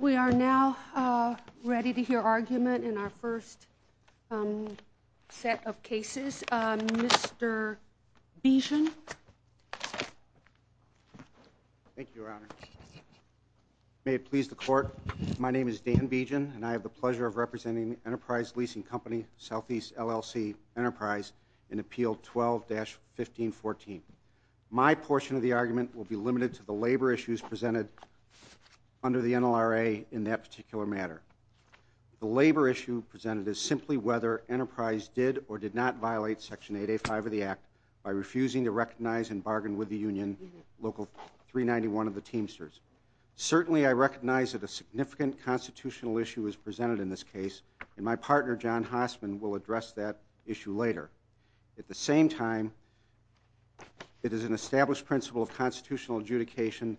We are now ready to hear argument in our first set of cases. Mr. Beegin. Thank you, Your Honor. May it please the Court, my name is Dan Beegin and I have the pleasure of representing Enterprise Leasing Company, Southeast LLC Enterprise in Appeal 12-1514. My portion of the argument will be limited to the labor issues presented under the NLRA in that particular matter. The labor issue presented is simply whether Enterprise did or did not violate Section 885 of the Act by refusing to recognize and bargain with the union, Local 391 of the Teamsters. Certainly, I recognize that a significant constitutional issue is presented in this case and my partner, John Hoffman, will address that issue later. At the same time, it is an established principle of constitutional adjudication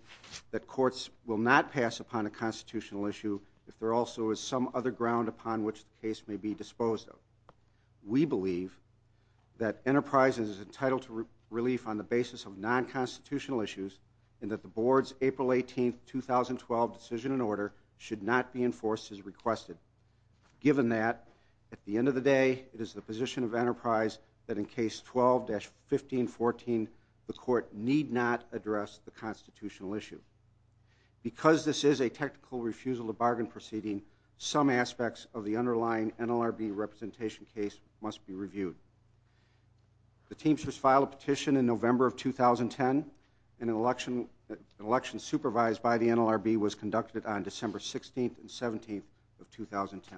that courts will not pass upon a constitutional issue if there also is some other ground upon which the case may be disposed of. We believe that Enterprise is entitled to relief on the basis of non-constitutional issues and that the Board's April 18, 2012 decision and order should not be enforced as requested. Given that, at the end of the day, it is the position of Enterprise that in Case 12-1514 the Court need not address the constitutional issue. Because this is a technical refusal to bargain proceeding, some aspects of the underlying NLRB representation case must be reviewed. The Teamsters filed a petition in November of 2010 and an election supervised by the NLRB was conducted on December 16th and 17th of 2010.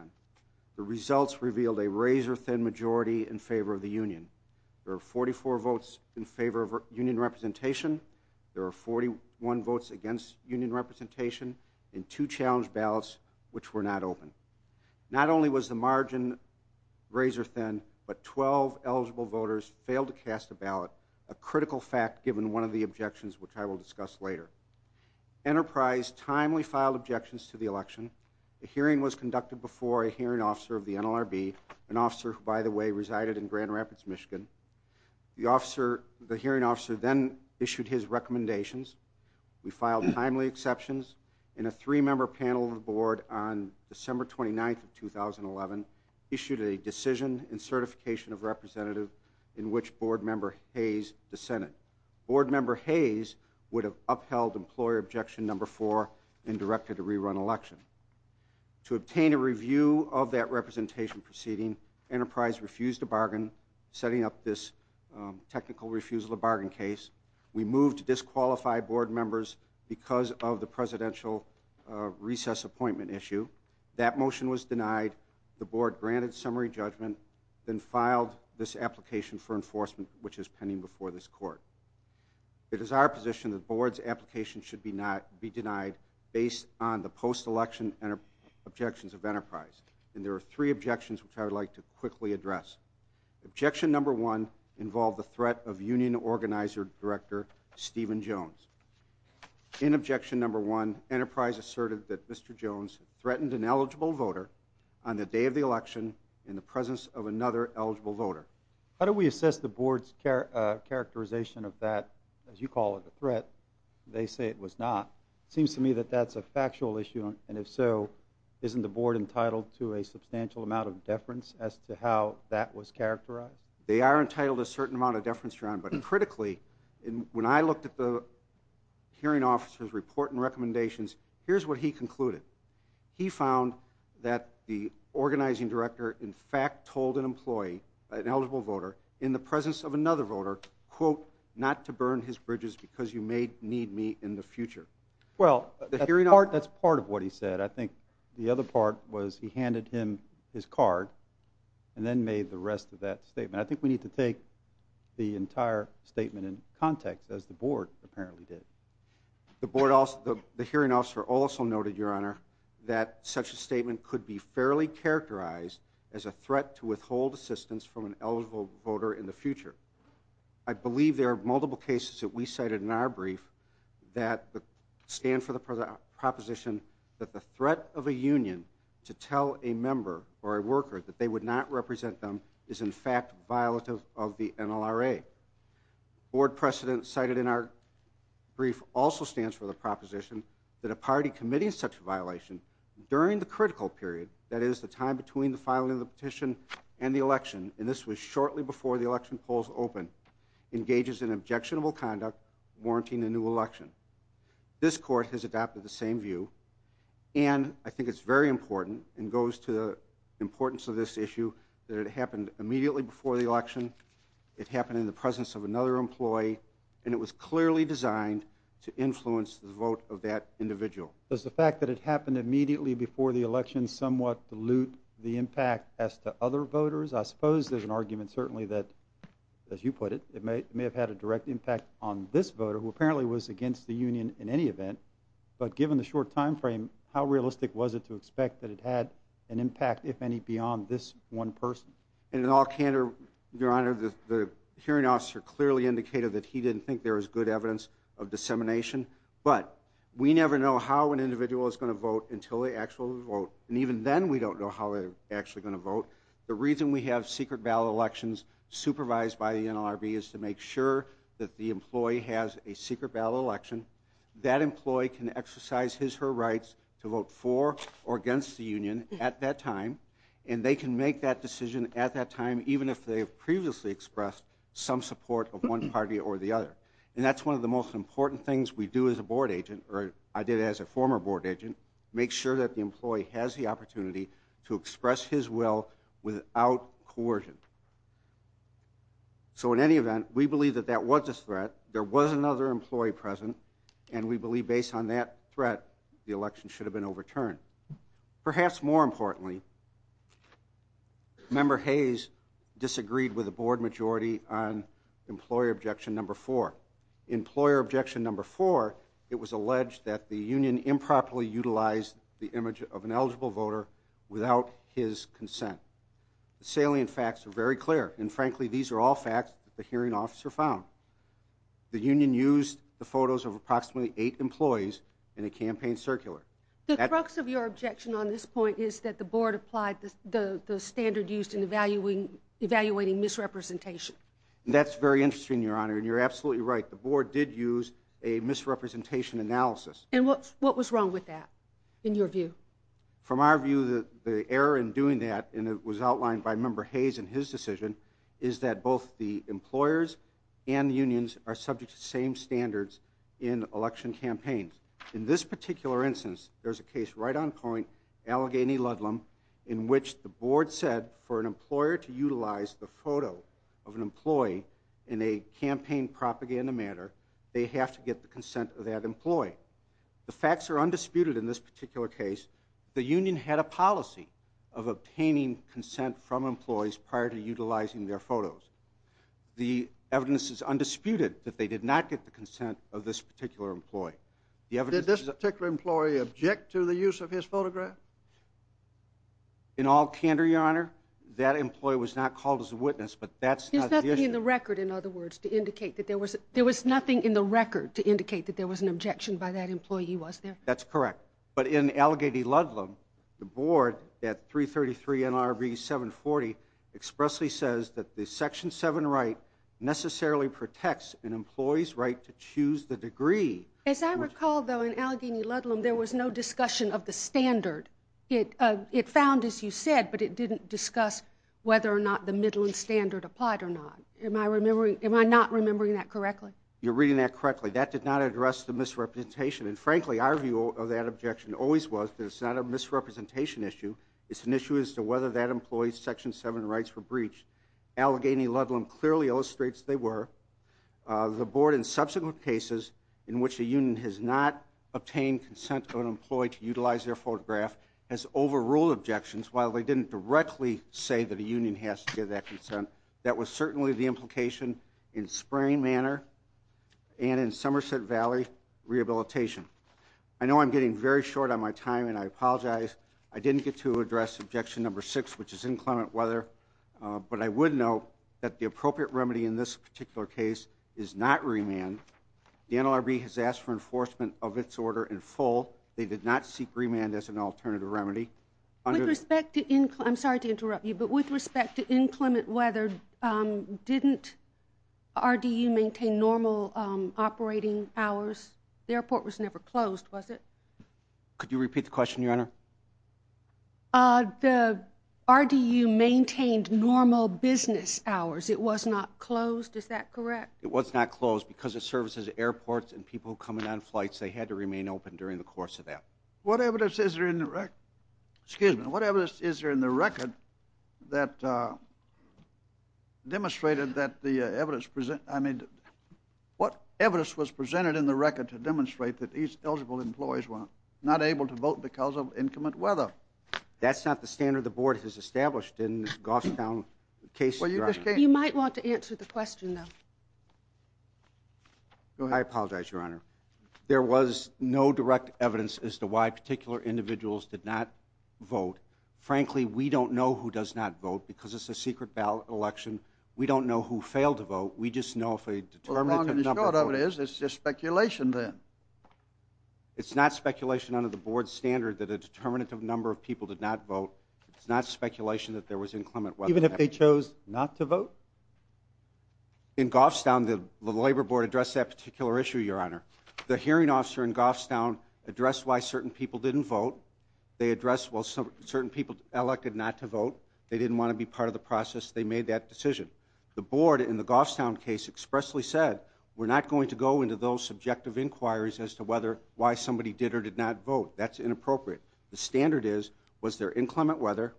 The results revealed a razor-thin majority in favor of the union. There were 44 votes in favor of union representation, there were 41 votes against union representation, and two challenge ballots which were not open. Not only was the margin razor-thin, but 12 eligible voters failed to cast a ballot, a critical fact given one of the objections which I will discuss later. Enterprise timely filed objections to the election. A hearing was conducted before a hearing officer of the NLRB, an officer who, by the way, resided in Grand Rapids, Michigan. The hearing officer then issued his recommendations. We filed timely exceptions and a three-member panel of the Board on December 29th of 2011 issued a decision and certification of representative in which Board Member Hayes dissented. Board Member Hayes would have upheld employer objection number four and directed a rerun election. To obtain a review of that representation proceeding, Enterprise refused a bargain, setting up this technical refusal to bargain case. We moved to disqualify Board Members because of the presidential recess appointment issue. That motion was denied, the Board granted summary judgment, and filed this application for enforcement which is pending before this court. It is our position that Board's application should be denied based on the post-election objections of Enterprise. And there are three objections which I would like to quickly address. Objection number one involved the threat of union organizer director Stephen Jones. In objection number one, Enterprise asserted that Mr. Jones threatened an eligible voter on the day of the election in the presence of another eligible voter. How do we assess the Board's characterization of that, as you call it, a threat? They say it was not. It seems to me that that's a factual issue, and if so, isn't the Board entitled to a substantial amount of deference as to how that was characterized? They are entitled to a certain amount of deference, John, but critically, when I looked at the hearing officer's report and recommendations, here's what he concluded. He found that the organizing director in fact told an employee, an eligible voter, in the presence of another voter, quote, not to burn his bridges because you may need me in the future. Well, that's part of what he said. I think the other part was he handed him his card and then made the rest of that statement. I think we need to take the entire statement in context, as the Board apparently did. The hearing officer also noted, Your Honor, that such a statement could be fairly characterized as a threat to withhold assistance from an eligible voter in the future. I believe there are multiple cases that we cited in our brief that stand for the proposition that the threat of a union to tell a member or a worker that they would not represent them is in fact violative of the NLRA. Board precedent cited in our brief also stands for the proposition that a party committing such a violation during the critical period, that is the time between the filing of the petition and the election, and this was shortly before the election polls opened, engages in objectionable conduct warranting a new election. This Court has adopted the same view, and I think it's very important and goes to the importance of this issue that it happened immediately before the election, it happened in the presence of another employee, and it was clearly designed to influence the vote of that individual. Does the fact that it happened immediately before the election somewhat dilute the impact as to other voters? I suppose there's an argument certainly that, as you put it, it may have had a direct impact on this voter, who apparently was against the union in any event, but given the short time frame, how realistic was it to expect that it had an impact, if any, beyond this one person? In all candor, Your Honor, the hearing officer clearly indicated that he didn't think there was good evidence of dissemination, but we never know how an individual is going to vote until they actually vote, and even then we don't know how they're actually going to vote. The reason we have secret ballot elections supervised by the NLRB is to make sure that the employee has a secret ballot election, that employee can exercise his or her rights to vote for or against the union at that time, and they can make that decision at that time even if they have previously expressed some support of one party or the other. And that's one of the most important things we do as a board agent, or I did as a former board agent, make sure that the employee has the opportunity to express his will without coercion. So in any event, we believe that that was a threat, there was another employee present, and we believe based on that threat the election should have been overturned. Perhaps more importantly, Member Hayes disagreed with the board majority on employer objection number four. Employer objection number four, it was alleged that the union improperly utilized the image of an eligible voter without his consent. Salient facts are very clear, and frankly these are all facts that the hearing officer found. The union used the photos of approximately eight employees in a campaign circular. The crux of your objection on this point is that the board applied the standard used in evaluating misrepresentation. That's very interesting, Your Honor, and you're absolutely right. The board did use a misrepresentation analysis. And what was wrong with that in your view? From our view, the error in doing that, and it was outlined by Member Hayes in his decision, is that both the employers and unions are subject to the same standards in election campaigns. In this particular instance, there's a case right on point, Allegheny-Ludlam, in which the board said for an employer to utilize the photo of an employee in a campaign propaganda manner, they have to get the consent of that employee. The facts are undisputed in this particular case. The union had a policy of obtaining consent from employees prior to utilizing their photos. The evidence is undisputed that they did not get the consent of this particular employee. Did this particular employee object to the use of his photograph? In all candor, Your Honor, that employee was not called as a witness, but that's not the issue. There was nothing in the record to indicate that there was an objection by that employee, was there? That's correct. But in Allegheny-Ludlam, the board at 333 NRV 740 expressly says that the Section 7 right necessarily protects an employee's right to choose the degree. As I recall, though, in Allegheny-Ludlam, there was no discussion of the standard. It found, as you said, but it didn't discuss whether or not the middling standard applied or not. Am I not remembering that correctly? You're reading that correctly. That did not address the misrepresentation. And frankly, our view of that objection always was that it's not a misrepresentation issue. It's an issue as to whether that employee's Section 7 rights were breached. Allegheny-Ludlam clearly illustrates they were. The board in subsequent cases in which the union has not obtained consent from an employee to utilize their photograph has overruled objections while they didn't directly say that a union has to give that consent. That was certainly the implication in Spring Manor and in Somerset Valley rehabilitation. I know I'm getting very short on my time, and I apologize. I didn't get to address objection number six, which is inclement weather. But I would note that the appropriate remedy in this particular case is not remand. The NLRB has asked for enforcement of its order in full. They did not seek remand as an alternative remedy. I'm sorry to interrupt you, but with respect to inclement weather, didn't RDU maintain normal operating hours? The airport was never closed, was it? Could you repeat the question, Your Honor? The RDU maintained normal business hours. It was not closed. Is that correct? It was not closed because of services at airports and people coming on flights. They had to remain open during the course of that. What evidence is there in the record that demonstrated that the evidence was presented in the record to demonstrate that these eligible employees were not able to vote because of inclement weather? That's not the standard the Board has established in the Gostown case, Your Honor. You might want to answer the question, though. I apologize, Your Honor. There was no direct evidence as to why particular individuals did not vote. Frankly, we don't know who does not vote because it's a secret ballot election. We don't know who failed to vote. We just know if a determinative number voted. It's just speculation, then. It's not speculation under the Board's standard that a determinative number of people did not vote. It's not speculation that there was inclement weather. Even if they chose not to vote? In Gostown, the Labor Board addressed that particular issue, Your Honor. The hearing officer in Gostown addressed why certain people didn't vote. They addressed why certain people elected not to vote. They didn't want to be part of the process. They made that decision. The Board, in the Gostown case, expressly said, we're not going to go into those subjective inquiries as to why somebody did or did not vote. That's inappropriate. The standard is, was there inclement weather?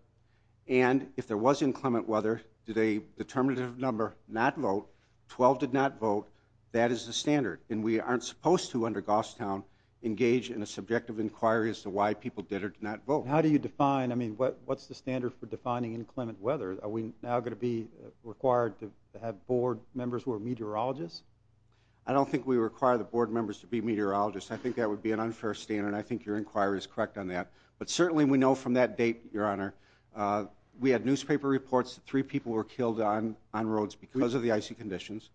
And if there was inclement weather, did a determinative number not vote? Twelve did not vote. That is the standard. And we aren't supposed to, under Gostown, engage in a subjective inquiry as to why people did or did not vote. How do you define, I mean, what's the standard for defining inclement weather? Are we now going to be required to have Board members who are meteorologists? I don't think we require the Board members to be meteorologists. I think that would be an unfair standard, and I think your inquiry is correct on that. But certainly we know from that date, Your Honor, we had newspaper reports that three people were killed on roads because of the icy conditions.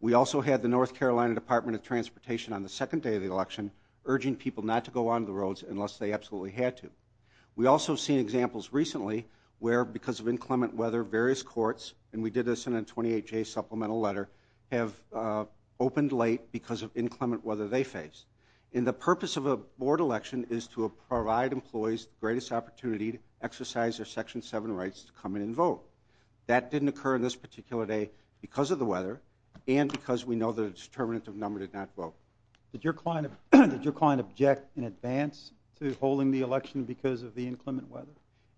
We also had the North Carolina Department of Transportation on the second day of the election urging people not to go on the roads unless they absolutely had to. We also have seen examples recently where, because of inclement weather, various courts, and we did this in a 28-J supplemental letter, have opened late because of inclement weather they faced. And the purpose of a Board election is to provide employees the greatest opportunity to exercise their Section 7 rights to come in and vote. That didn't occur on this particular day because of the weather and because we know the determinants of number did not vote. Did your client object in advance to holding the election because of the inclement weather?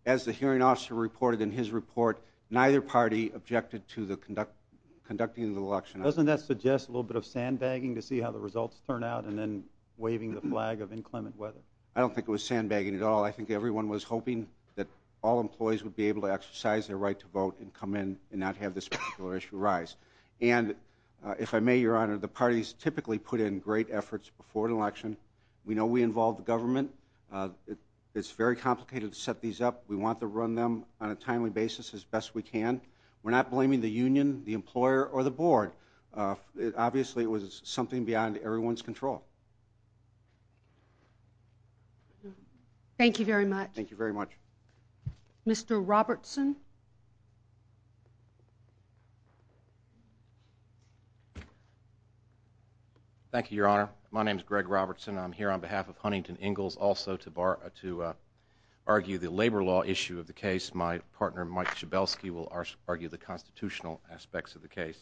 As the hearing officer reported in his report, neither party objected to conducting the election. Doesn't that suggest a little bit of sandbagging to see how the results turn out and then waving the flag of inclement weather? I don't think it was sandbagging at all. I think everyone was hoping that all employees would be able to exercise their right to vote and come in and not have this particular issue arise. And if I may, Your Honor, the parties typically put in great efforts before an election. We know we involve the government. It's very complicated to set these up. We want to run them on a timely basis as best we can. We're not blaming the union, the employer, or the Board. Obviously, it was something beyond everyone's control. Thank you very much. Thank you very much. Mr. Robertson? Thank you, Your Honor. My name is Greg Robertson. I'm here on behalf of Huntington Ingalls also to argue the labor law issue of the case. My partner, Mike Chabelski, will argue the constitutional aspects of the case.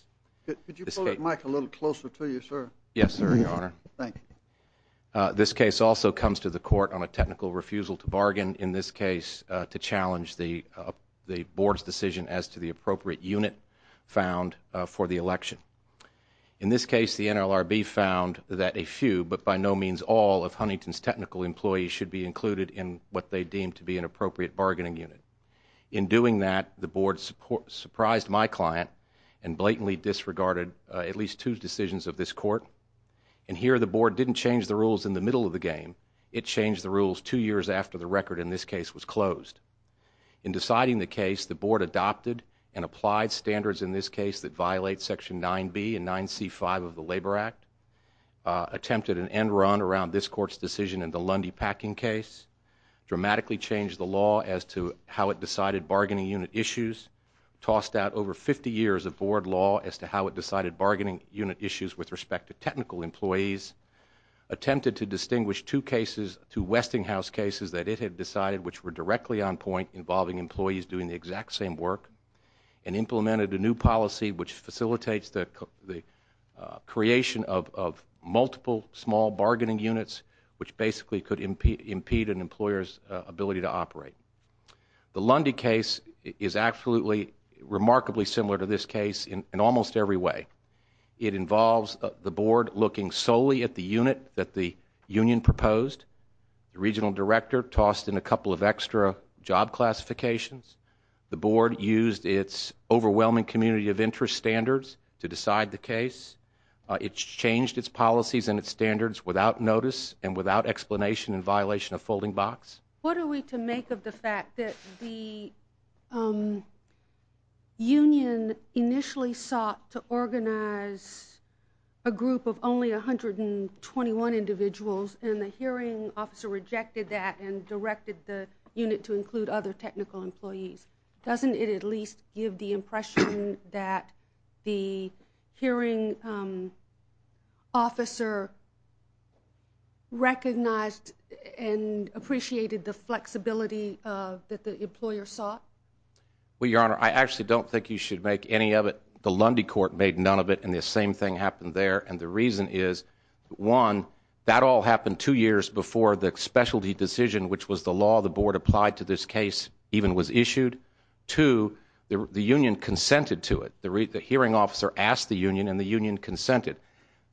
Could you pull the mic a little closer to you, sir? Yes, sir, Your Honor. Thank you. This case also comes to the Court on a technical refusal to bargain, in this case to challenge the Board's decision as to the appropriate unit found for the election. In this case, the NLRB found that a few, but by no means all, of Huntington's technical employees should be included in what they deemed to be an appropriate bargaining unit. In doing that, the Board surprised my client and blatantly disregarded at least two decisions of this Court. And here, the Board didn't change the rules in the middle of the game. It changed the rules two years after the record in this case was closed. In deciding the case, the Board adopted and applied standards in this case that violate Section 9B and 9C.5 of the Labor Act, attempted an end run around this Court's decision in the Lundy Packing case, dramatically changed the law as to how it decided bargaining unit issues, tossed out over 50 years of Board law as to how it decided bargaining unit issues with respect to technical employees, attempted to distinguish two Westinghouse cases that it had decided which were directly on point, involving employees doing the exact same work, and implemented a new policy which facilitates the creation of multiple small bargaining units, The Lundy case is absolutely remarkably similar to this case in almost every way. It involves the Board looking solely at the unit that the union proposed. The Regional Director tossed in a couple of extra job classifications. The Board used its overwhelming community of interest standards to decide the case. It changed its policies and its standards without notice and without explanation in violation of folding box. What are we to make of the fact that the union initially sought to organize a group of only 121 individuals and the hearing officer rejected that and directed the unit to include other technical employees? Doesn't it at least give the impression that the hearing officer recognized and appreciated the flexibility that the employer sought? Well, Your Honor, I actually don't think you should make any of it. The Lundy court made none of it and the same thing happened there. And the reason is, one, that all happened two years before the specialty decision, which was the law the Board applied to this case even was issued. Two, the union consented to it. The hearing officer asked the union and the union consented.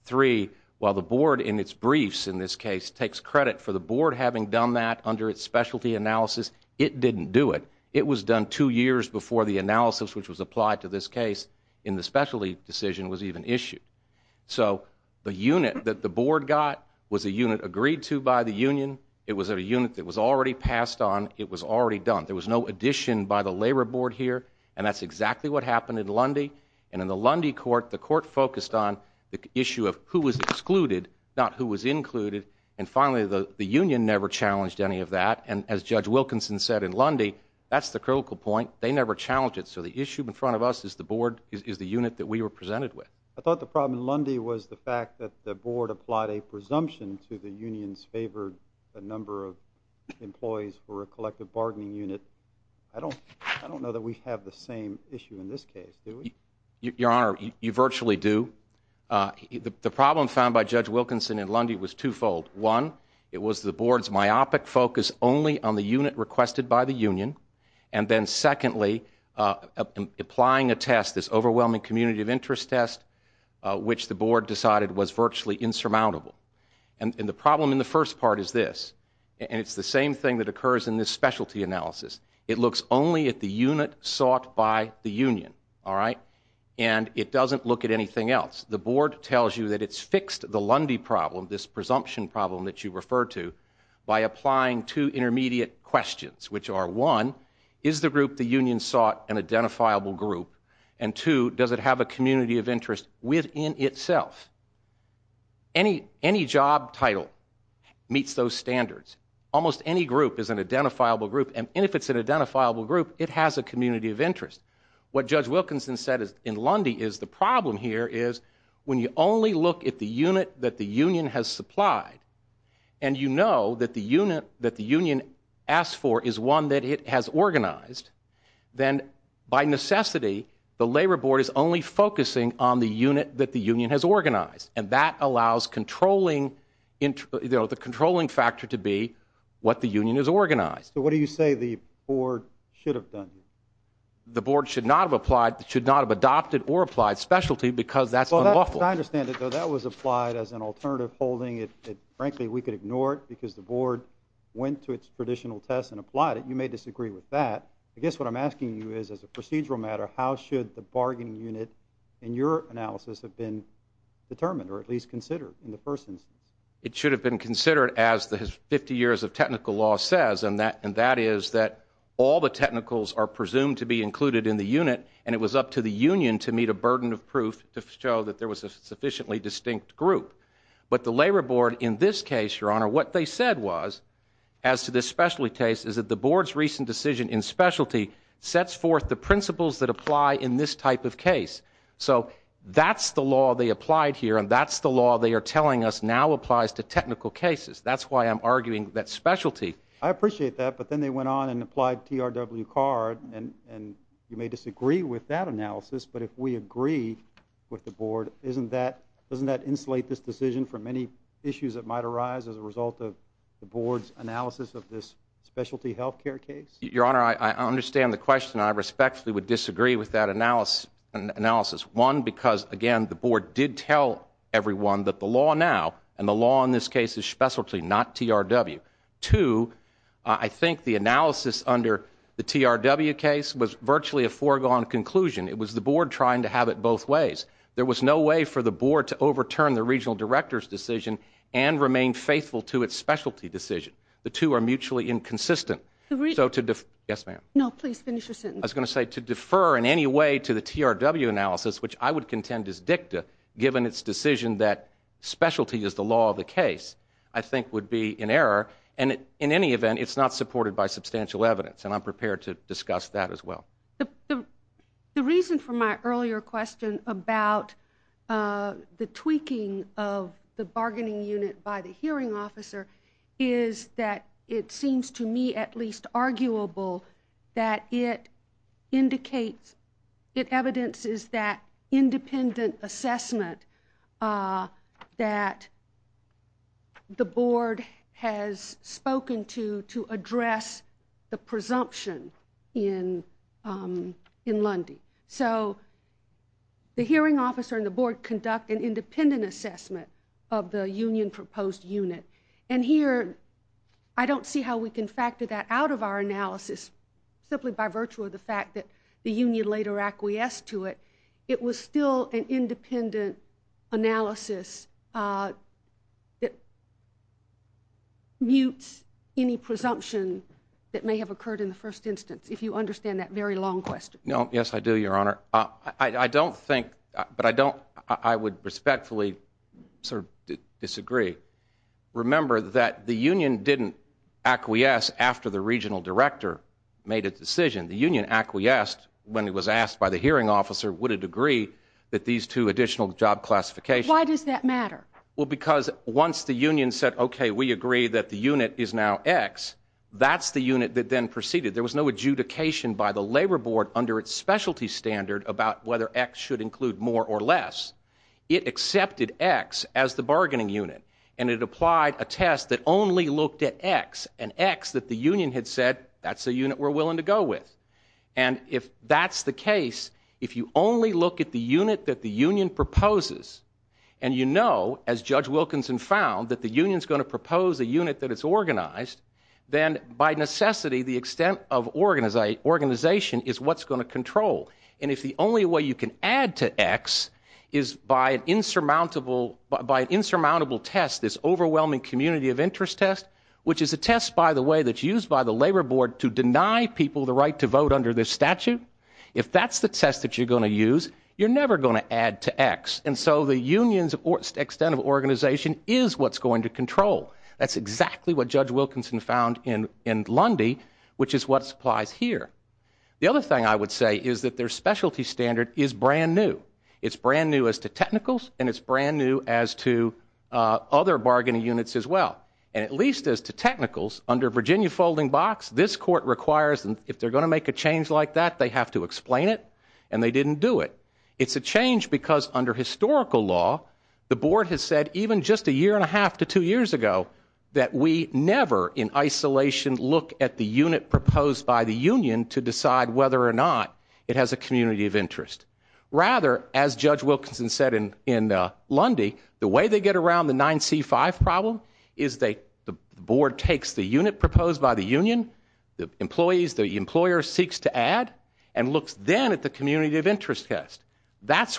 Three, while the Board in its briefs in this case takes credit for the Board having done that under its specialty analysis, it didn't do it. It was done two years before the analysis which was applied to this case in the specialty decision was even issued. So the unit that the Board got was a unit agreed to by the union. It was a unit that was already passed on. It was already done. There was no addition by the Labor Board here, and that's exactly what happened in Lundy. And in the Lundy court, the court focused on the issue of who was excluded, not who was included. And finally, the union never challenged any of that. And as Judge Wilkinson said in Lundy, that's the critical point. They never challenged it. So the issue in front of us is the Board is the unit that we were presented with. I thought the problem in Lundy was the fact that the Board applied a presumption to the union's favored number of employees for a collective bargaining unit. I don't know that we have the same issue in this case, do we? Your Honor, you virtually do. The problem found by Judge Wilkinson in Lundy was twofold. One, it was the Board's myopic focus only on the unit requested by the union. And then secondly, applying a test, this overwhelming community of interest test, which the Board decided was virtually insurmountable. And the problem in the first part is this, and it's the same thing that occurs in this specialty analysis. It looks only at the unit sought by the union, all right? And it doesn't look at anything else. The Board tells you that it's fixed the Lundy problem, this presumption problem that you referred to, by applying two intermediate questions, which are one, is the group the union sought an identifiable group? And two, does it have a community of interest within itself? Any job title meets those standards. Almost any group is an identifiable group, and if it's an identifiable group, it has a community of interest. What Judge Wilkinson said in Lundy is the problem here is when you only look at the unit that the union has supplied, and you know that the unit that the union asked for is one that it has organized, then by necessity, the Labor Board is only focusing on the unit that the union has organized. And that allows the controlling factor to be what the union has organized. So what do you say the Board should have done? The Board should not have applied – should not have adopted or applied specialty because that's unlawful. I understand it, though. That was applied as an alternative holding. Frankly, we could ignore it because the Board went to its traditional test and applied it. You may disagree with that. I guess what I'm asking you is, as a procedural matter, how should the bargaining unit in your analysis have been determined or at least considered in the first instance? It should have been considered as the 50 years of technical law says, and that is that all the technicals are presumed to be included in the unit, and it was up to the union to meet a burden of proof to show that there was a sufficiently distinct group. But the Labor Board in this case, Your Honor, what they said was, as to the specialty case, is that the Board's recent decision in specialty sets forth the principles that apply in this type of case. So that's the law they applied here, and that's the law they are telling us now applies to technical cases. That's why I'm arguing that specialty – I appreciate that, but then they went on and applied PRW-CAR, and you may disagree with that analysis. But if we agree with the Board, doesn't that insulate this decision from any issues that might arise as a result of the Board's analysis of this specialty health care case? Your Honor, I understand the question, and I respectfully would disagree with that analysis. One, because, again, the Board did tell everyone that the law now, and the law in this case is specialty, not TRW. Two, I think the analysis under the TRW case was virtually a foregone conclusion. It was the Board trying to have it both ways. There was no way for the Board to overturn the regional director's decision and remain faithful to its specialty decision. The two are mutually inconsistent. Yes, ma'am. No, please finish your sentence. I was going to say, to defer in any way to the TRW analysis, which I would contend is dictative, given its decision that specialty is the law of the case, I think would be in error. And in any event, it's not supported by substantial evidence, and I'm prepared to discuss that as well. The reason for my earlier question about the tweaking of the bargaining unit by the hearing officer is that it seems to me at least arguable that it indicates, it evidences that independent assessment that the Board has spoken to to address the presumption in Lundy. So the hearing officer and the Board conduct an independent assessment of the union-proposed unit. And here, I don't see how we can factor that out of our analysis simply by virtue of the fact that the union later acquiesced to it. It was still an independent analysis that mutes any presumption that may have occurred in the first instance, if you understand that very long question. No, yes, I do, Your Honor. I don't think, but I don't, I would respectfully disagree. Remember that the union didn't acquiesce after the regional director made a decision. The union acquiesced when it was asked by the hearing officer would it agree that these two additional job classifications. Why does that matter? Well, because once the union said, okay, we agree that the unit is now X, that's the unit that then proceeded. There was no adjudication by the Labor Board under its specialty standard about whether X should include more or less. It accepted X as the bargaining unit, and it applied a test that only looked at X, that the union had said that's the unit we're willing to go with. And if that's the case, if you only look at the unit that the union proposes, and you know, as Judge Wilkinson found, that the union is going to propose a unit that is organized, then by necessity the extent of organization is what's going to control. And if the only way you can add to X is by an insurmountable test, this overwhelming community of interest test, which is a test, by the way, that's used by the Labor Board to deny people the right to vote under this statute, if that's the test that you're going to use, you're never going to add to X. And so the union's extent of organization is what's going to control. That's exactly what Judge Wilkinson found in Lundy, which is what's applied here. The other thing I would say is that their specialty standard is brand new. It's brand new as to technicals, and it's brand new as to other bargaining units as well. And at least as to technicals, under Virginia Folding Box, this court requires them if they're going to make a change like that, they have to explain it, and they didn't do it. It's a change because under historical law, the board has said even just a year and a half to two years ago that we never in isolation look at the unit proposed by the union to decide whether or not it has a community of interest. Rather, as Judge Wilkinson said in Lundy, the way they get around the 9C5 problem is the board takes the unit proposed by the union, the employees, the employer seeks to add, and looks then at the community of interest test. That's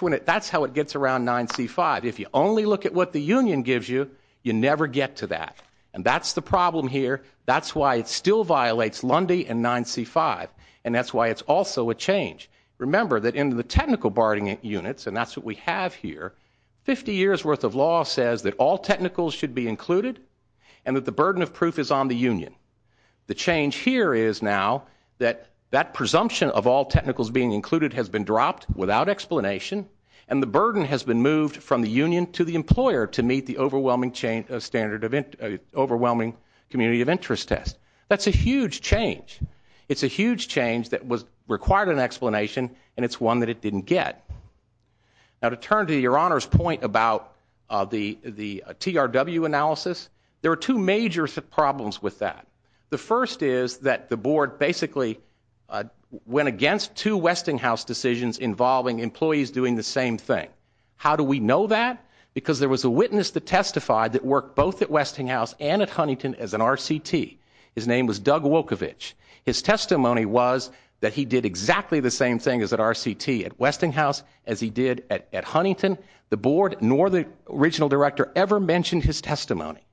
how it gets around 9C5. If you only look at what the union gives you, you never get to that. And that's the problem here. That's why it still violates Lundy and 9C5, and that's why it's also a change. Remember that in the technical barring units, and that's what we have here, 50 years' worth of law says that all technicals should be included and that the burden of proof is on the union. The change here is now that that presumption of all technicals being included has been dropped without explanation, and the burden has been moved from the union to the employer to meet the overwhelming community of interest test. That's a huge change. It's a huge change that required an explanation, and it's one that it didn't get. Now, to turn to Your Honor's point about the TRW analysis, there are two major problems with that. The first is that the board basically went against two Westinghouse decisions involving employees doing the same thing. How do we know that? Because there was a witness that testified that worked both at Westinghouse and at Huntington as an RCT. His name was Doug Wolkovich. His testimony was that he did exactly the same thing as an RCT at Westinghouse as he did at Huntington. The board nor the regional director ever mentioned his testimony,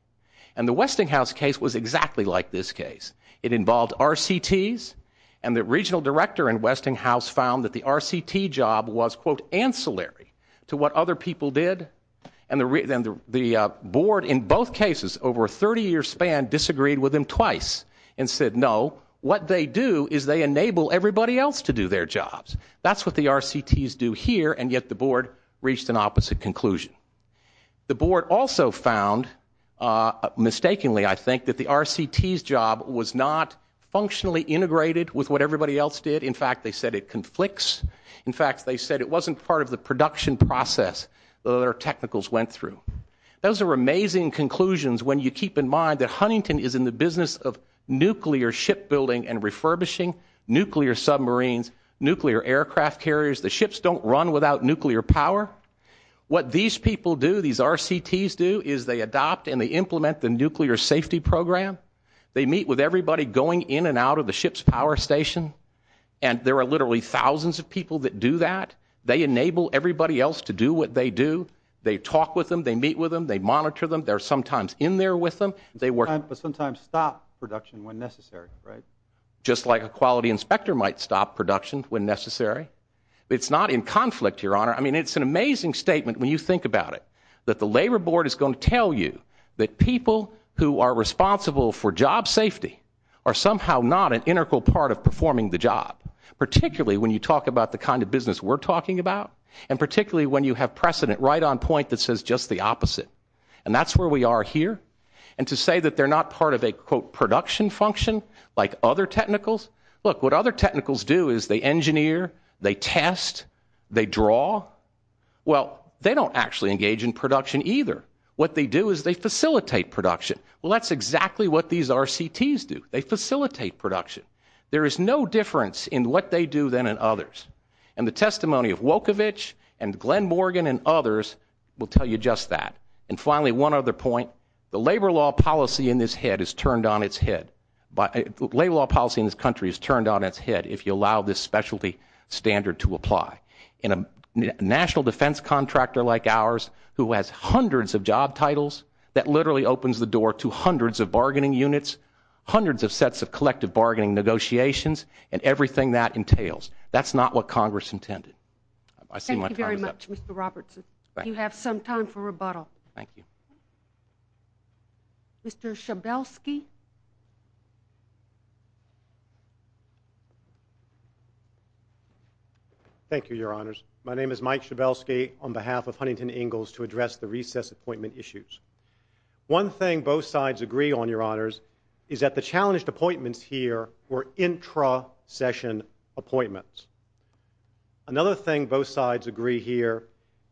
and the Westinghouse case was exactly like this case. It involved RCTs, and the regional director in Westinghouse found that the RCT job was, quote, and said, no, what they do is they enable everybody else to do their jobs. That's what the RCTs do here, and yet the board reached an opposite conclusion. The board also found, mistakenly, I think, that the RCTs job was not functionally integrated with what everybody else did. In fact, they said it conflicts. In fact, they said it wasn't part of the production process that our technicals went through. Those are amazing conclusions when you keep in mind that Huntington is in the business of nuclear shipbuilding and refurbishing, nuclear submarines, nuclear aircraft carriers. The ships don't run without nuclear power. What these people do, these RCTs do, is they adopt and they implement the nuclear safety program. They meet with everybody going in and out of the ship's power station, and there are literally thousands of people that do that. They enable everybody else to do what they do. They talk with them. They meet with them. They monitor them. They're sometimes in there with them. They sometimes stop production when necessary, just like a quality inspector might stop production when necessary. It's not in conflict, Your Honor. I mean, it's an amazing statement when you think about it, that the labor board is going to tell you that people who are responsible for job safety are somehow not an integral part of performing the job, particularly when you talk about the kind of business we're talking about and particularly when you have precedent right on point that says just the opposite. And that's where we are here. And to say that they're not part of a, quote, production function like other technicals, look, what other technicals do is they engineer, they test, they draw. Well, they don't actually engage in production either. What they do is they facilitate production. Well, that's exactly what these RCTs do. They facilitate production. There is no difference in what they do than in others. And the testimony of Wojtowicz and Glenn Morgan and others will tell you just that. And finally, one other point. The labor law policy in this country is turned on its head if you allow this specialty standard to apply. And a national defense contractor like ours who has hundreds of job titles, that literally opens the door to hundreds of bargaining units, hundreds of sets of collective bargaining negotiations, and everything that entails. That's not what Congress intended. Thank you very much, Mr. Robertson. You have some time for rebuttal. Thank you. Mr. Schabelsky. Thank you, Your Honors. My name is Mike Schabelsky on behalf of Huntington Ingalls to address the recess appointment issues. One thing both sides agree on, Your Honors, is that the challenged appointments here were intra-session appointments. Another thing both sides agree here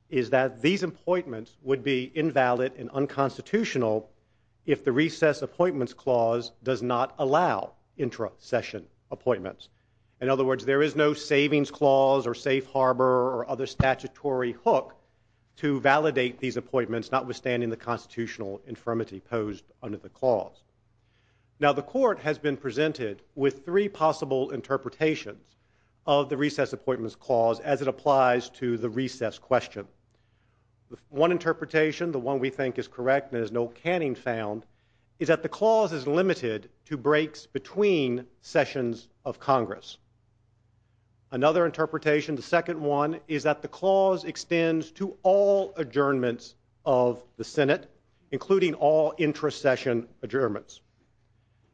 is that these appointments would be invalid and unconstitutional if the recess appointments clause does not allow intra-session appointments. In other words, there is no savings clause or safe harbor or other statutory hook to validate these appointments, notwithstanding the constitutional infirmity posed under the clause. Now, the Court has been presented with three possible interpretations of the recess appointments clause as it applies to the recess question. One interpretation, the one we think is correct and there's no canning sound, is that the clause is limited to breaks between sessions of Congress. Another interpretation, the second one, is that the clause extends to all adjournments of the Senate, including all intra-session adjournments.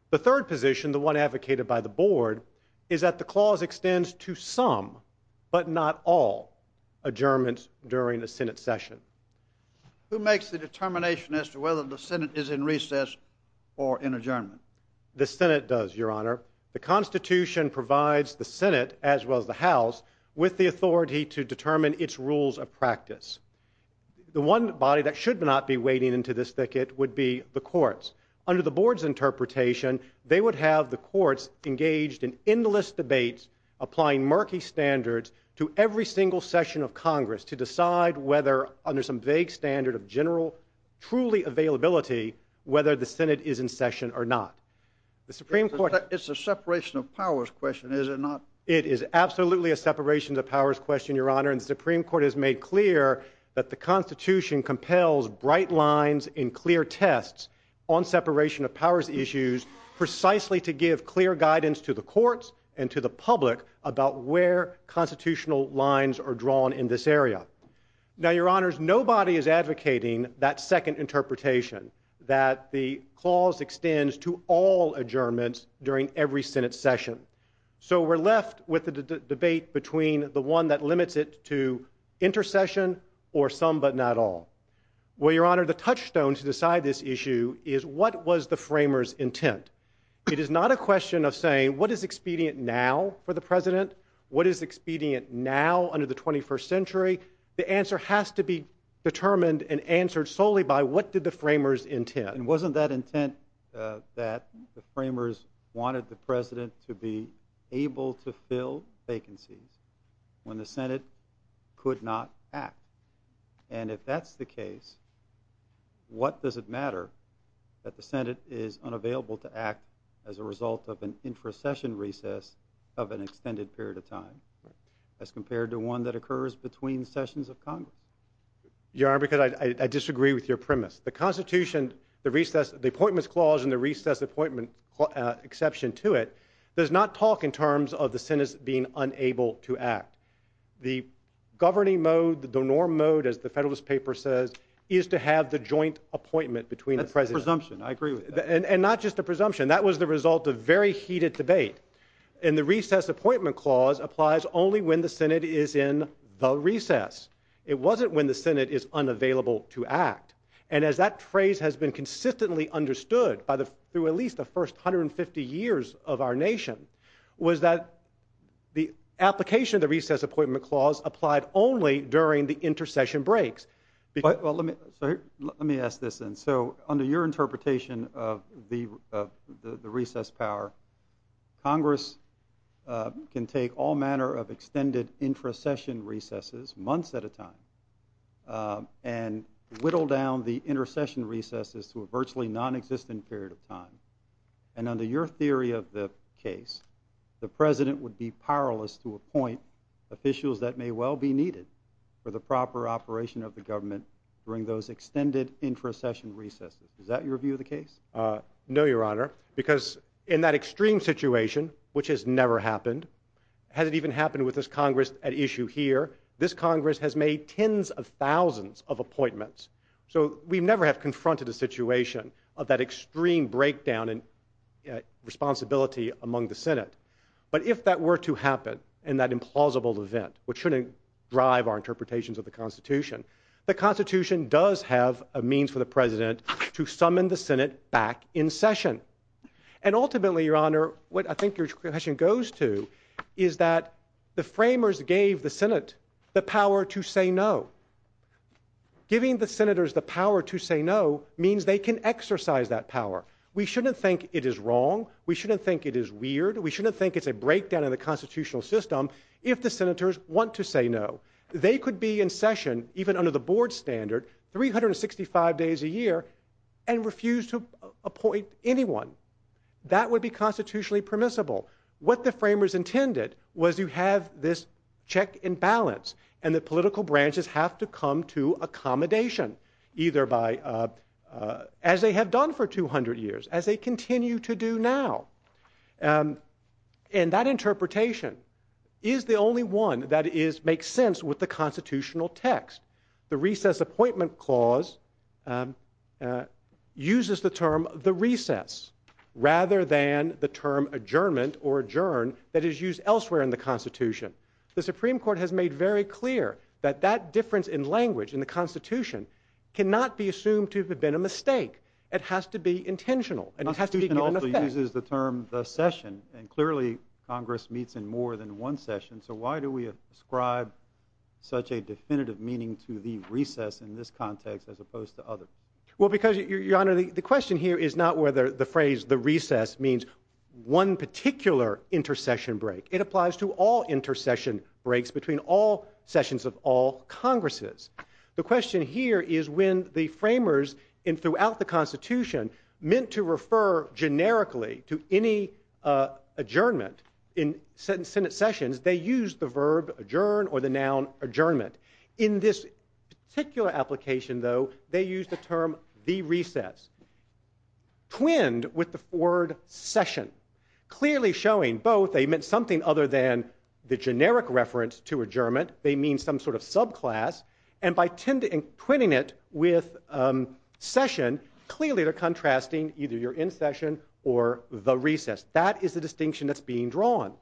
The third position, the one advocated by the Board, is that the clause extends to some, but not all, adjournments during the Senate session. Who makes the determination as to whether the Senate is in recess or in adjournment? The Senate does, Your Honor. The Constitution provides the Senate, as well as the House, with the authority to determine its rules of practice. The one body that should not be wading into this thicket would be the courts. Under the Board's interpretation, they would have the courts engaged in endless debates, applying murky standards to every single session of Congress to decide whether, under some vague standard of general, truly availability, whether the Senate is in session or not. It's a separation of powers question, is it not? It is absolutely a separation of powers question, Your Honor, and the Supreme Court has made clear that the Constitution compels bright lines and clear tests on separation of powers issues precisely to give clear guidance to the courts and to the public about where constitutional lines are drawn in this area. Now, Your Honors, nobody is advocating that second interpretation, that the clause extends to all adjournments during every Senate session. So we're left with the debate between the one that limits it to intercession or some but not all. Well, Your Honor, the touchstone to decide this issue is what was the framers' intent? It is not a question of saying what is expedient now for the President, the answer has to be determined and answered solely by what did the framers' intent. And wasn't that intent that the framers wanted the President to be able to fill vacancies when the Senate could not act? And if that's the case, what does it matter that the Senate is unavailable to act as a result of an intercession recess of an extended period of time as compared to one that occurs between sessions of Congress? Your Honor, because I disagree with your premise. The Constitution, the appointment clause and the recess appointment exception to it does not talk in terms of the Senate being unable to act. The governing mode, the norm mode, as the Federalist Paper says, is to have the joint appointment between the President. That's a presumption. I agree with that. And not just a presumption. That was the result of very heated debate. And the recess appointment clause applies only when the Senate is in the recess. It wasn't when the Senate is unavailable to act. And as that phrase has been consistently understood through at least the first 150 years of our nation, was that the application of the recess appointment clause applied only during the intercession breaks. Let me ask this then. So under your interpretation of the recess power, Congress can take all manner of extended intercession recesses, months at a time, and whittle down the intercession recesses to a virtually nonexistent period of time. And under your theory of the case, the President would be powerless to appoint officials that may well be needed for the proper operation of the government during those extended intercession recesses. Is that your view of the case? No, Your Honor, because in that extreme situation, which has never happened, hasn't even happened with this Congress at issue here, this Congress has made tens of thousands of appointments. So we never have confronted the situation of that extreme breakdown and responsibility among the Senate. But if that were to happen in that implausible event, which shouldn't drive our interpretations of the Constitution, the Constitution does have a means for the President to summon the Senate back in session. And ultimately, Your Honor, what I think your question goes to is that the framers gave the Senate the power to say no. Giving the Senators the power to say no means they can exercise that power. We shouldn't think it is wrong. We shouldn't think it is weird. We shouldn't think it's a breakdown in the constitutional system if the Senators want to say no. They could be in session, even under the board standard, 365 days a year and refuse to appoint anyone. That would be constitutionally permissible. What the framers intended was to have this check and balance, and the political branches have to come to accommodation, as they have done for 200 years, as they continue to do now. And that interpretation is the only one that makes sense with the constitutional text. The Recess Appointment Clause uses the term the recess rather than the term adjournment or adjourn that is used elsewhere in the Constitution. The Supreme Court has made very clear that that difference in language in the Constitution cannot be assumed to have been a mistake. It has to be intentional. The Constitution also uses the term the session, and clearly Congress meets in more than one session, so why do we ascribe such a definitive meaning to the recess in this context as opposed to others? Well, because, Your Honor, the question here is not whether the phrase the recess means one particular intercession break. It applies to all intercession breaks between all sessions of all Congresses. In the Constitution, meant to refer generically to any adjournment in Senate sessions, they use the verb adjourn or the noun adjournment. In this particular application, though, they use the term the recess. Twinned with the word session. Clearly showing both, they meant something other than the generic reference to adjournment. They mean some sort of subclass. And by twinning it with session, clearly they're contrasting either you're in session or the recess. That is the distinction that's being drawn.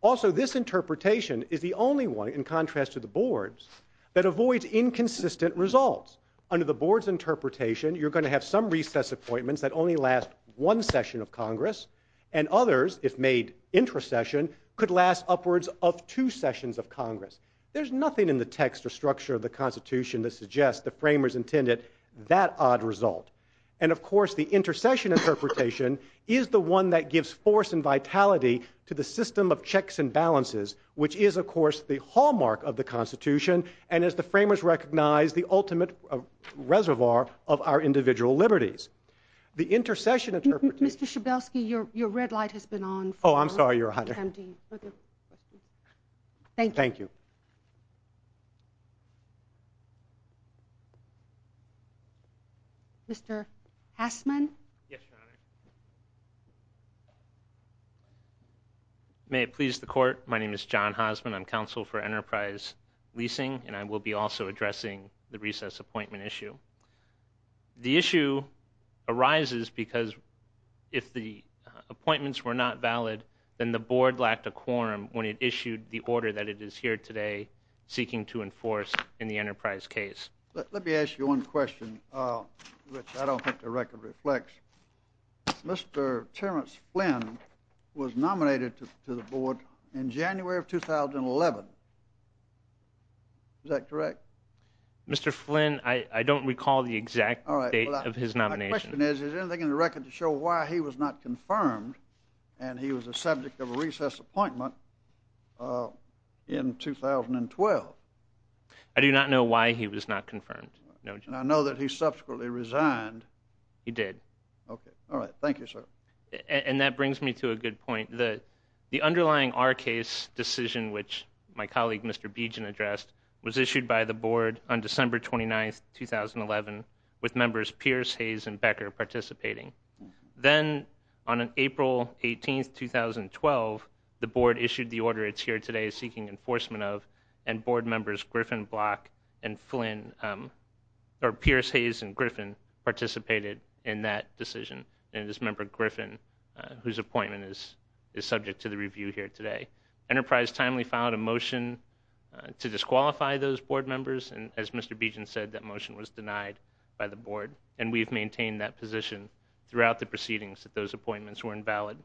Also, this interpretation is the only one, in contrast to the board's, that avoids inconsistent results. Under the board's interpretation, you're going to have some recess appointments that only last one session of Congress, and others, if made intercession, could last upwards of two sessions of Congress. There's nothing in the text or structure of the Constitution that suggests the framers intended that odd result. And, of course, the intercession interpretation is the one that gives force and vitality to the system of checks and balances, which is, of course, the hallmark of the Constitution and, as the framers recognized, the ultimate reservoir of our individual liberties. The intercession interpretation... Mr. Schabelsky, your red light has been on. Oh, I'm sorry, Your Honor. Thank you. Mr. Hosman? Yes, Your Honor. May it please the Court, my name is John Hosman. I'm counsel for Enterprise Leasing, and I will be also addressing the recess appointment issue. The issue arises because if the appointments were not valid, then the board lacked a quorum when it issued the order that it is here today seeking to enforce in the Enterprise case. Let me ask you one question, which I don't think the record reflects. Mr. Terrence Flynn was nominated to the board in January of 2011. Is that correct? Mr. Flynn, I don't recall the exact date of his nomination. My question is, is there anything in the record to show why he was not confirmed and he was the subject of a recess appointment in 2012? I do not know why he was not confirmed. And I know that he subsequently resigned. He did. All right, thank you, sir. And that brings me to a good point. The underlying R case decision, which my colleague Mr. Beejan addressed, was issued by the board on December 29, 2011, with members Pierce, Hayes, and Becker participating. Then on April 18, 2012, the board issued the order it's here today seeking enforcement of and board members Griffin, Block, and Flynn, or Pierce, Hayes, and Griffin, participated in that decision. And it was member Griffin whose appointment is subject to the review here today. Enterprise timely filed a motion to disqualify those board members, and as Mr. Beejan said, that motion was denied by the board. And we've maintained that position throughout the proceedings that those appointments were invalid.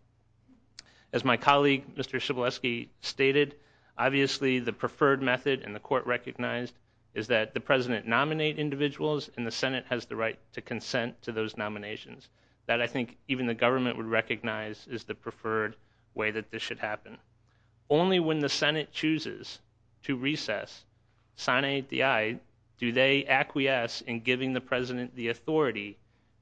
As my colleague, Mr. Chbilewski, stated, obviously the preferred method, and the court recognized, is that the President nominate individuals and the Senate has the right to consent to those nominations. That I think even the government would recognize is the preferred way that this should happen. Only when the Senate chooses to recess, sign API, do they acquiesce in giving the President the authority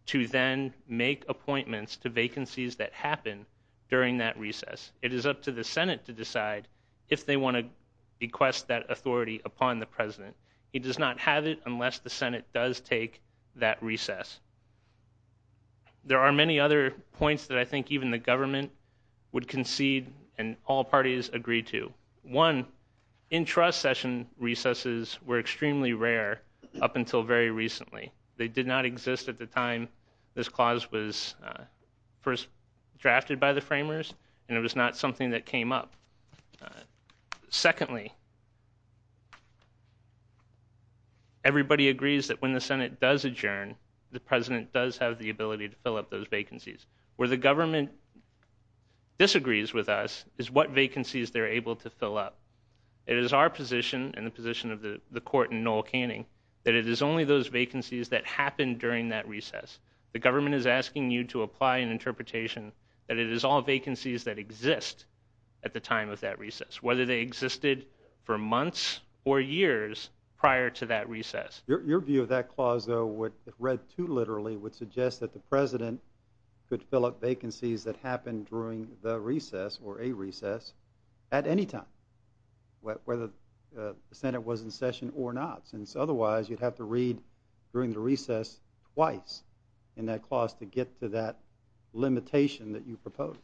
to then make appointments to vacancies that happen during that recess. It is up to the Senate to decide if they want to request that authority upon the President. He does not have it unless the Senate does take that recess. There are many other points that I think even the government would concede and all parties agree to. One, in-trust session recesses were extremely rare up until very recently. They did not exist at the time this clause was first drafted by the framers, and it was not something that came up. Secondly, everybody agrees that when the Senate does adjourn, the President does have the ability to fill up those vacancies. Where the government disagrees with us is what vacancies they're able to fill up. It is our position and the position of the court in Noel Canning that it is only those vacancies that happen during that recess. The government is asking you to apply an interpretation that it is all vacancies that exist at the time of that recess, whether they existed for months or years prior to that recess. Your view of that clause, though, read too literally, would suggest that the President could fill up vacancies that happened during the recess or a recess at any time, whether the Senate was in session or not, since otherwise you'd have to read during the recess twice in that clause to get to that limitation that you proposed.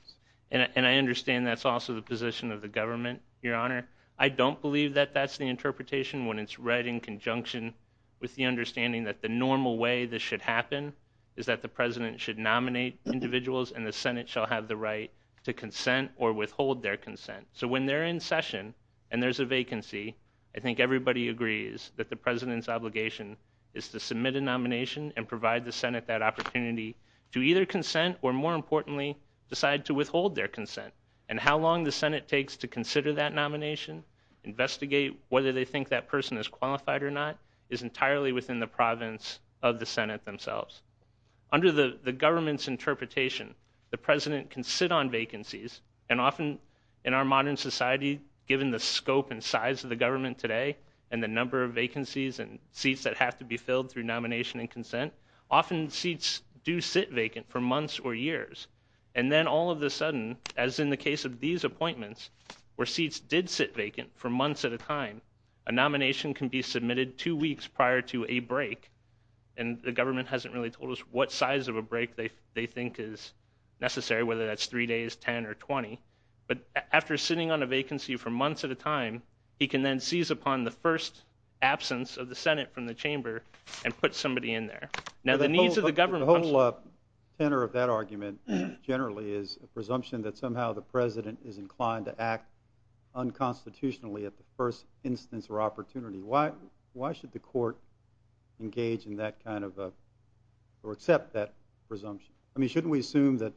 And I understand that's also the position of the government, Your Honor. I don't believe that that's the interpretation when it's read in conjunction with the understanding that the normal way this should happen is that the President should nominate individuals, and the Senate shall have the right to consent or withhold their consent. So when they're in session and there's a vacancy, I think everybody agrees that the President's obligation is to submit a nomination and provide the Senate that opportunity to either consent or, more importantly, decide to withhold their consent. And how long the Senate takes to consider that nomination, investigate whether they think that person is qualified or not, is entirely within the province of the Senate themselves. Under the government's interpretation, the President can sit on vacancies, and often in our modern society, given the scope and size of the government today and the number of vacancies and seats that have to be filled through nomination and consent, often seats do sit vacant for months or years. And then all of a sudden, as in the case of these appointments, where seats did sit vacant for months at a time, a nomination can be submitted two weeks prior to a break, and the government hasn't really told us what size of a break they think is necessary, whether that's three days, ten, or twenty. But after sitting on a vacancy for months at a time, he can then seize upon the first absence of the Senate from the chamber and put somebody in there. Now the needs of the government... The whole center of that argument generally is a presumption that somehow the President is inclined to act unconstitutionally at the first instance or opportunity. Why should the court engage in that kind of, or accept that presumption? I mean, shouldn't we assume that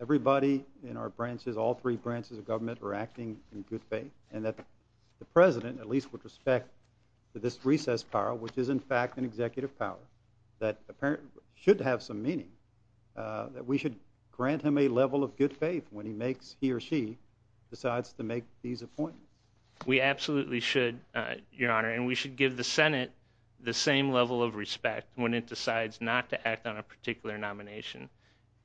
everybody in our branches, all three branches of government, are acting in good faith, and that the President, at least with respect to this recess, Carl, which is in fact an executive power that apparently should have some meaning, that we should grant him a level of good faith when he makes, he or she, decides to make these appointments? We absolutely should, Your Honor, and we should give the Senate the same level of respect when it decides not to act on a particular nomination.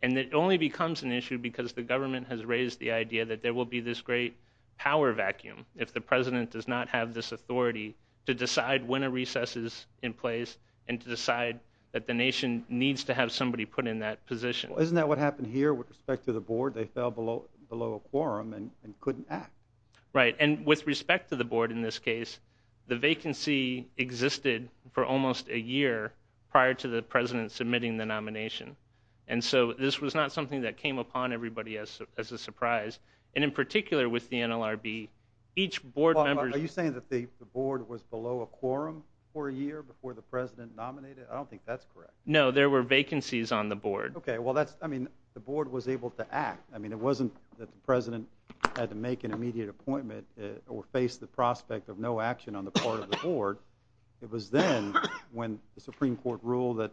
And it only becomes an issue because the government has raised the idea that there will be this great power vacuum if the President does not have this authority to decide when a recess is in place and to decide that the nation needs to have somebody put in that position. Isn't that what happened here with respect to the board? They fell below a quorum and couldn't act. Right, and with respect to the board in this case, the vacancy existed for almost a year prior to the President submitting the nomination. And so this was not something that came upon everybody as a surprise. And in particular with the NLRB, each board member... The board was below a quorum for a year before the President nominated? I don't think that's correct. No, there were vacancies on the board. Okay, well, I mean, the board was able to act. I mean, it wasn't that the President had to make an immediate appointment or face the prospect of no action on the part of the board. It was then, when the Supreme Court ruled that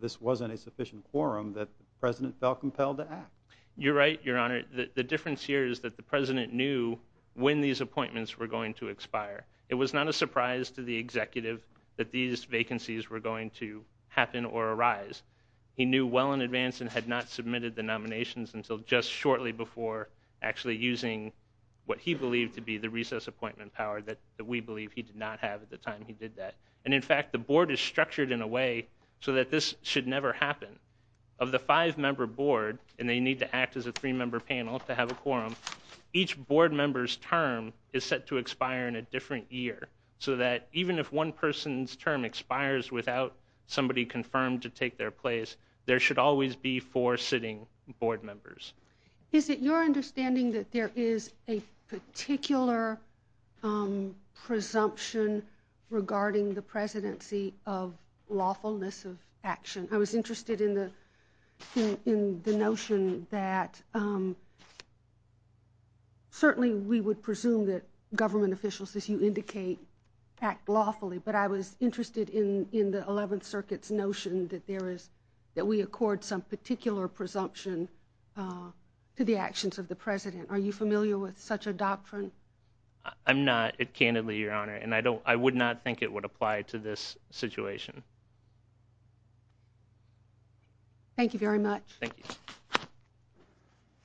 this wasn't a sufficient quorum, that the President felt compelled to act. You're right, Your Honor. The difference here is that the President knew when these appointments were going to expire. It was not a surprise to the executive that these vacancies were going to happen or arise. He knew well in advance and had not submitted the nominations until just shortly before actually using what he believed to be the recess appointment power that we believe he did not have at the time he did that. And, in fact, the board is structured in a way so that this should never happen. Of the five-member board, and they need to act as a three-member panel to have a quorum, each board member's term is set to expire in a different year, so that even if one person's term expires without somebody confirmed to take their place, there should always be four sitting board members. Is it your understanding that there is a particular presumption regarding the presidency of lawfulness of action? I was interested in the notion that certainly we would presume that government officials, as you indicate, act lawfully, but I was interested in the Eleventh Circuit's notion that we accord some particular presumption to the actions of the President. Are you familiar with such a doctrine? And I would not think it would apply to this situation. Thank you very much.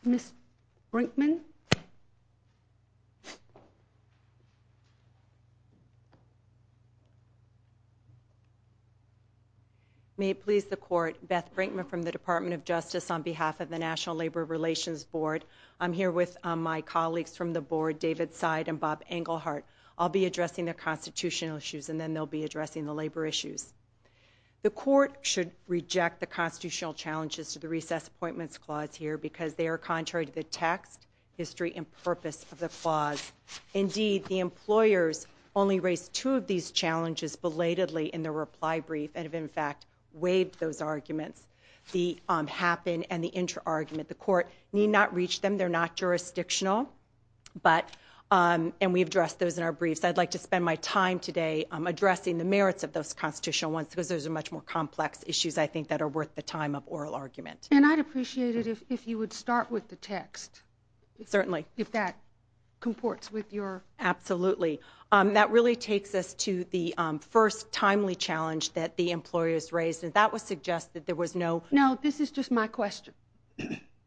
Ms. Brinkman? May it please the Court, Beth Brinkman from the Department of Justice on behalf of the National Labor Relations Board. I'm here with my colleagues from the board, David Seid and Bob Englehart. I'll be addressing the constitutional issues, and then they'll be addressing the labor issues. The Court should reject the constitutional challenges to the Recess Appointments Clause here because they are contrary to the text, history, and purpose of the clause. Indeed, the employers only raised two of these challenges belatedly in their reply brief and have in fact waived those arguments, the happen and the inter-argument. The Court need not reach them. They're not jurisdictional, and we've addressed those in our briefs. I'd like to spend my time today addressing the merits of those constitutional ones because those are much more complex issues I think that are worth the time of oral argument. And I'd appreciate it if you would start with the text. Certainly. If that comports with your... Absolutely. That really takes us to the first timely challenge that the employers raised, and that would suggest that there was no... No, this is just my question.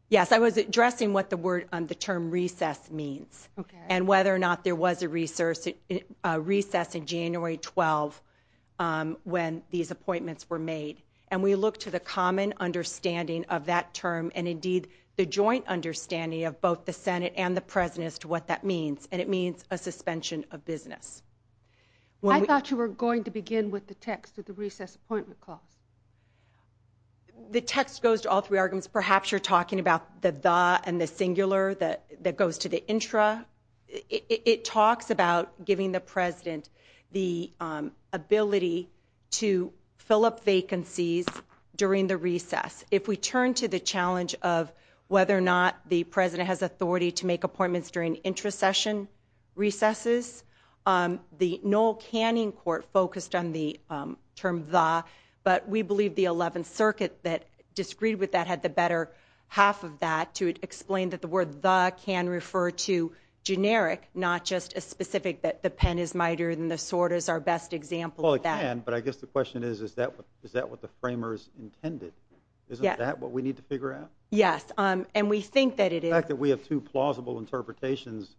Yes, I was addressing what the term recess means and whether or not there was a recess in January 12 when these appointments were made. And we look to the common understanding of that term and indeed the joint understanding of both the Senate and the President as to what that means, and it means a suspension of business. I thought you were going to begin with the text of the Recess Appointment Clause. The text goes to all three arguments. Perhaps you're talking about the the and the singular that goes to the intra. It talks about giving the President the ability to fill up vacancies during the recess. If we turn to the challenge of whether or not the President has authority to make appointments during intra-session recesses, the Noel Canning Court focused on the term the, but we believe the 11th Circuit that disagreed with that had the better half of that to explain that the word the can refer to generic, not just a specific that the pen is mightier than the sword is our best example of that. Well, it can, but I guess the question is, is that what the framers intended? Isn't that what we need to figure out? Yes, and we think that it is. The fact that we have two plausible interpretations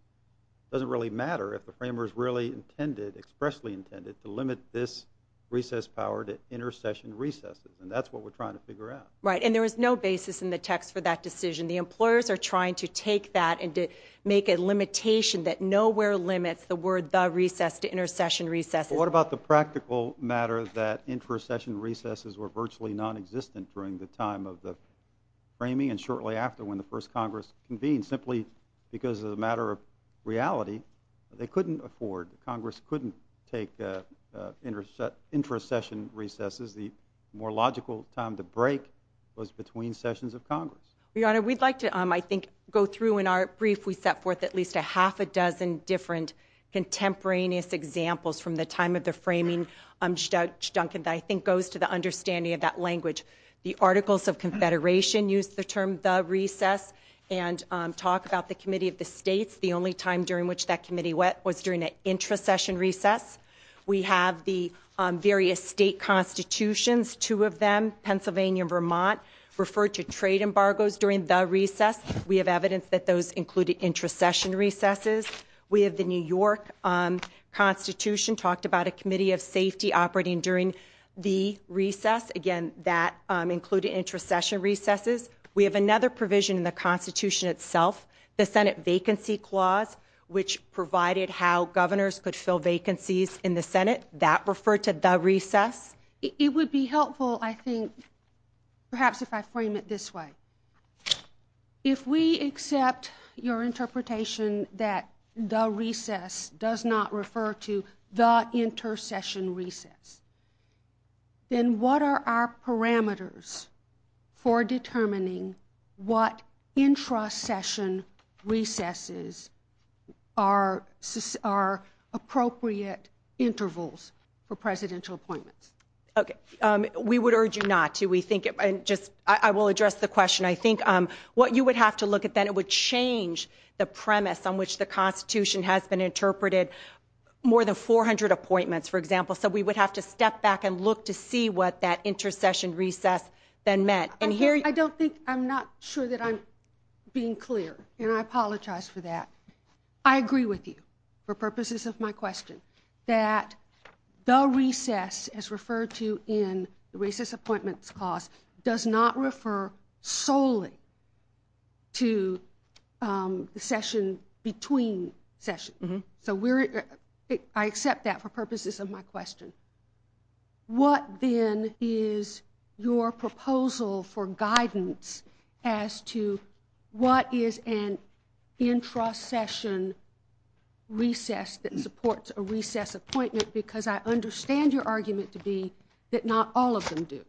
doesn't really matter if the framers really intended, expressly intended, to limit this recess power to inter-session recesses, and that's what we're trying to figure out. Right, and there is no basis in the text for that decision. The employers are trying to take that and make a limitation that nowhere limits the word the recess to inter-session recesses. What about the practical matter that inter-session recesses were virtually nonexistent during the time of the framing and shortly after when the first Congress convened simply because of the matter of reality? They couldn't afford, Congress couldn't take inter-session recesses. The more logical time to break was between sessions of Congress. Your Honor, we'd like to, I think, go through in our brief. We set forth at least a half a dozen different contemporaneous examples from the time of the framing. I think it goes to the understanding of that language. The Articles of Confederation used the term the recess and talked about the Committee of the States, the only time during which that committee was during an inter-session recess. We have the various state constitutions, two of them, Pennsylvania and Vermont, referred to trade embargoes during the recess. We have evidence that those included inter-session recesses. We have the New York Constitution, talked about a Committee of Safety operating during the recess. Again, that included inter-session recesses. We have another provision in the Constitution itself, the Senate Vacancy Clause, which provided how governors could fill vacancies in the Senate. That referred to the recess. It would be helpful, I think, perhaps if I frame it this way. If we accept your interpretation that the recess does not refer to the inter-session recess, then what are our parameters for determining what inter-session recesses are appropriate intervals for presidential appointments? Okay. We would urge you not to. I will address the question. I think what you would have to look at then, it would change the premise on which the Constitution has been interpreted, more than 400 appointments, for example. So we would have to step back and look to see what that inter-session recess then meant. I'm not sure that I'm being clear, and I apologize for that. I agree with you for purposes of my question that the recess, as referred to in the Recess Appointments Clause, does not refer solely to the session between sessions. I accept that for purposes of my question. What then is your proposal for guidance as to what is an inter-session recess that supports a recess appointment? Because I understand your argument to be that not all of them do.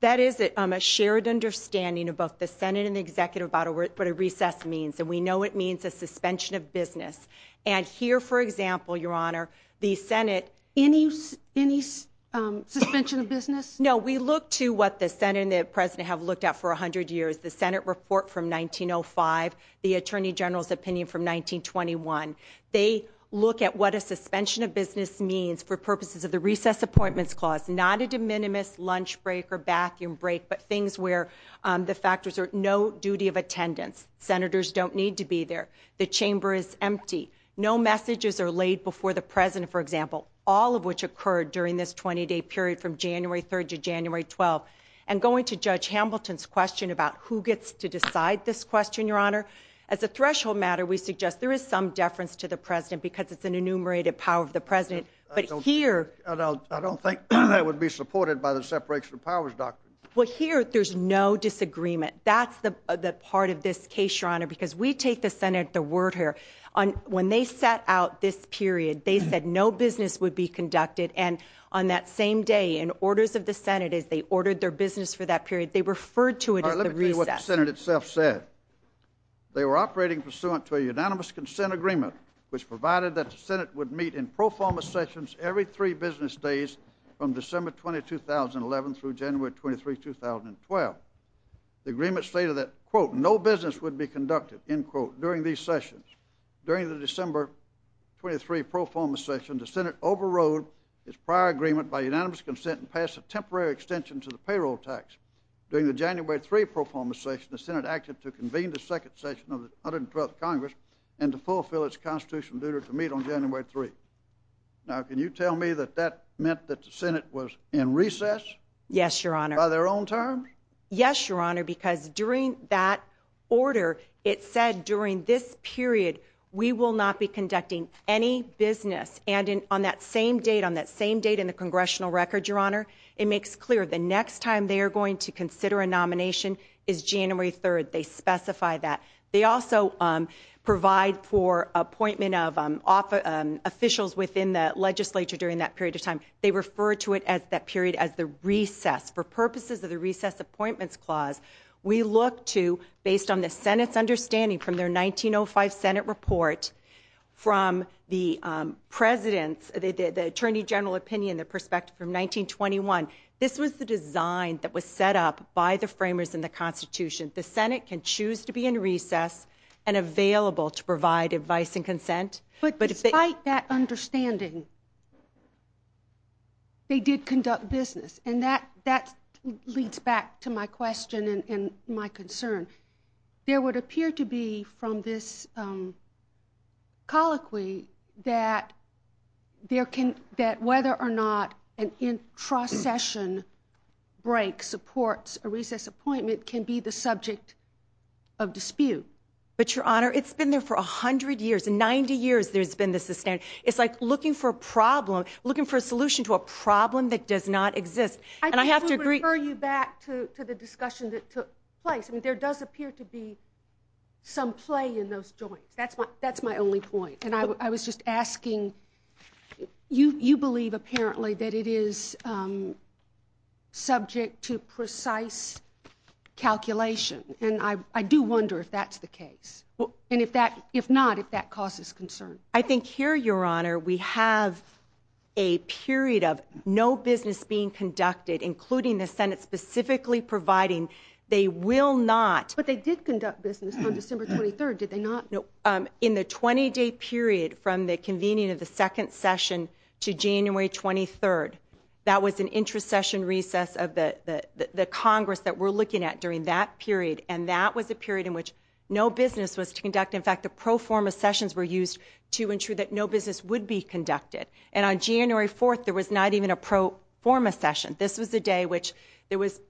That is a shared understanding of both the Senate what a recess means, and we know it means a suspension of business. And here, for example, Your Honor, the Senate – Any suspension of business? No, we look to what the Senate and the President have looked at for 100 years, the Senate report from 1905, the Attorney General's opinion from 1921. They look at what a suspension of business means for purposes of the Recess Appointments Clause, not a de minimis lunch break or bathroom break, but things where the factors are no duty of attendance. Senators don't need to be there. The chamber is empty. No messages are laid before the President, for example, all of which occurred during this 20-day period from January 3rd to January 12th. And going to Judge Hamilton's question about who gets to decide this question, Your Honor, as a threshold matter, we suggest there is some deference to the President because it's an enumerated power of the President. I don't think that would be supported by the separation of powers doctrine. Well, here there's no disagreement. That's the part of this case, Your Honor, because we take the Senate at the word here. When they set out this period, they said no business would be conducted. And on that same day, in orders of the Senate, as they ordered their business for that period, they referred to it at the recess. Let me say what the Senate itself said. They were operating pursuant to a unanimous consent agreement which provided that the Senate would meet in pro forma sessions every three business days from December 20, 2011 through January 23, 2012. The agreement stated that, quote, no business would be conducted, end quote, during these sessions. During the December 23 pro forma session, the Senate overrode its prior agreement by unanimous consent and passed a temporary extension to the payroll tax. During the January 3 pro forma session, the Senate acted to convene the second session of the 112th Congress and to fulfill its constitutional duty to meet on January 3. Now, can you tell me that that meant that the Senate was in recess? Yes, Your Honor. By their own terms? Yes, Your Honor, because during that order, it said during this period we will not be conducting any business. And on that same date, on that same date in the congressional record, Your Honor, it makes clear the next time they are going to consider a nomination is January 3. They specify that. They also provide for appointment of officials within the legislature during that period of time. They refer to it at that period as the recess. For purposes of the recess appointments clause, we look to, based on the Senate's understanding from their 1905 Senate report, from the President's, the Attorney General opinion, the perspective from 1921, this was the design that was set up by the framers in the Constitution. The Senate can choose to be in recess and available to provide advice and consent. But despite that understanding, they did conduct business. And that leads back to my question and my concern. There would appear to be from this colloquy that whether or not an intra-session break supports a recess appointment can be the subject of dispute. But, Your Honor, it's been there for 100 years. In 90 years there's been this. It's like looking for a problem, looking for a solution to a problem that does not exist. And I have to agree. I would refer you back to the discussion that took place. There does appear to be some play in those joints. That's my only point. And I was just asking, you believe apparently that it is subject to precise calculation. And I do wonder if that's the case. And if not, if that causes concern. I think here, Your Honor, we have a period of no business being conducted, including the Senate specifically providing they will not. But they did conduct business on December 23rd, did they not? No. In the 20-day period from the convening of the second session to January 23rd, that was an intra-session recess of the Congress that we're looking at during that period. And that was a period in which no business was conducted. In fact, the pro forma sessions were used to ensure that no business would be conducted. And on January 4th there was not even a pro forma session. This was a day which there was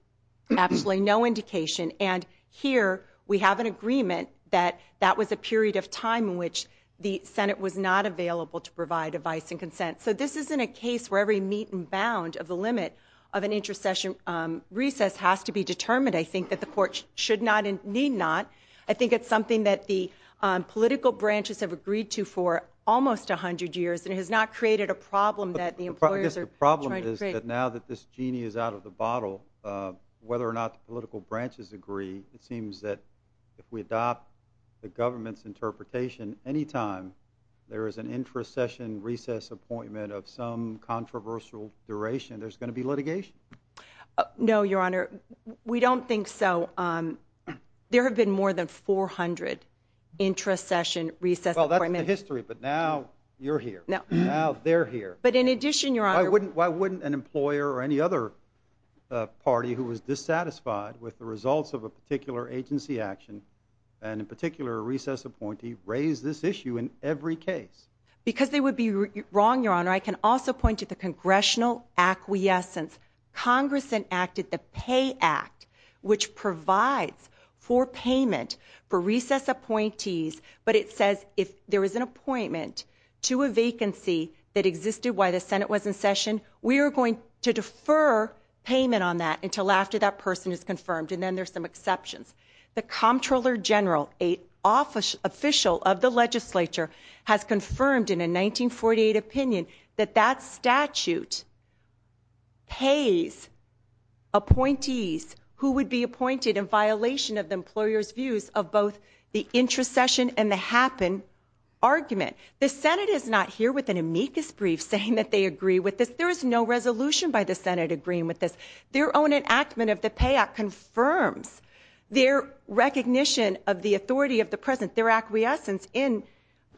absolutely no indication. And here we have an agreement that that was a period of time in which the Senate was not available to provide advice and consent. So this isn't a case where every meat and bound of the limit of an intra-session recess has to be determined. I think that the court should not and need not. I think it's something that the political branches have agreed to for almost 100 years. And it has not created a problem that the employers are trying to create. Now that this genie is out of the bottle, whether or not the political branches agree, it seems that if we adopt the government's interpretation, anytime there is an intra-session recess appointment of some controversial duration, there's going to be litigation. No, Your Honor, we don't think so. There have been more than 400 intra-session recess appointments. Well, that's the history, but now you're here. Now they're here. But in addition, Your Honor – Why wouldn't an employer or any other party who was dissatisfied with the results of a particular agency action, and in particular a recess appointee, raise this issue in every case? Because they would be wrong, Your Honor. I can also point to the congressional acquiescence. Congress enacted the Pay Act, which provides for payment for recess appointees, but it says if there is an appointment to a vacancy that existed while the Senate was in session, we are going to defer payment on that until after that person is confirmed, and then there's some exceptions. The Comptroller General, an official of the legislature, has confirmed in a 1948 opinion that that statute pays appointees who would be appointed in violation of the employer's views of both the intra-session and the happen argument. The Senate is not here with an amicus brief saying that they agree with this. There is no resolution by the Senate agreeing with this. Their own enactment of the Pay Act confirms their recognition of the authority of the President, their acquiescence in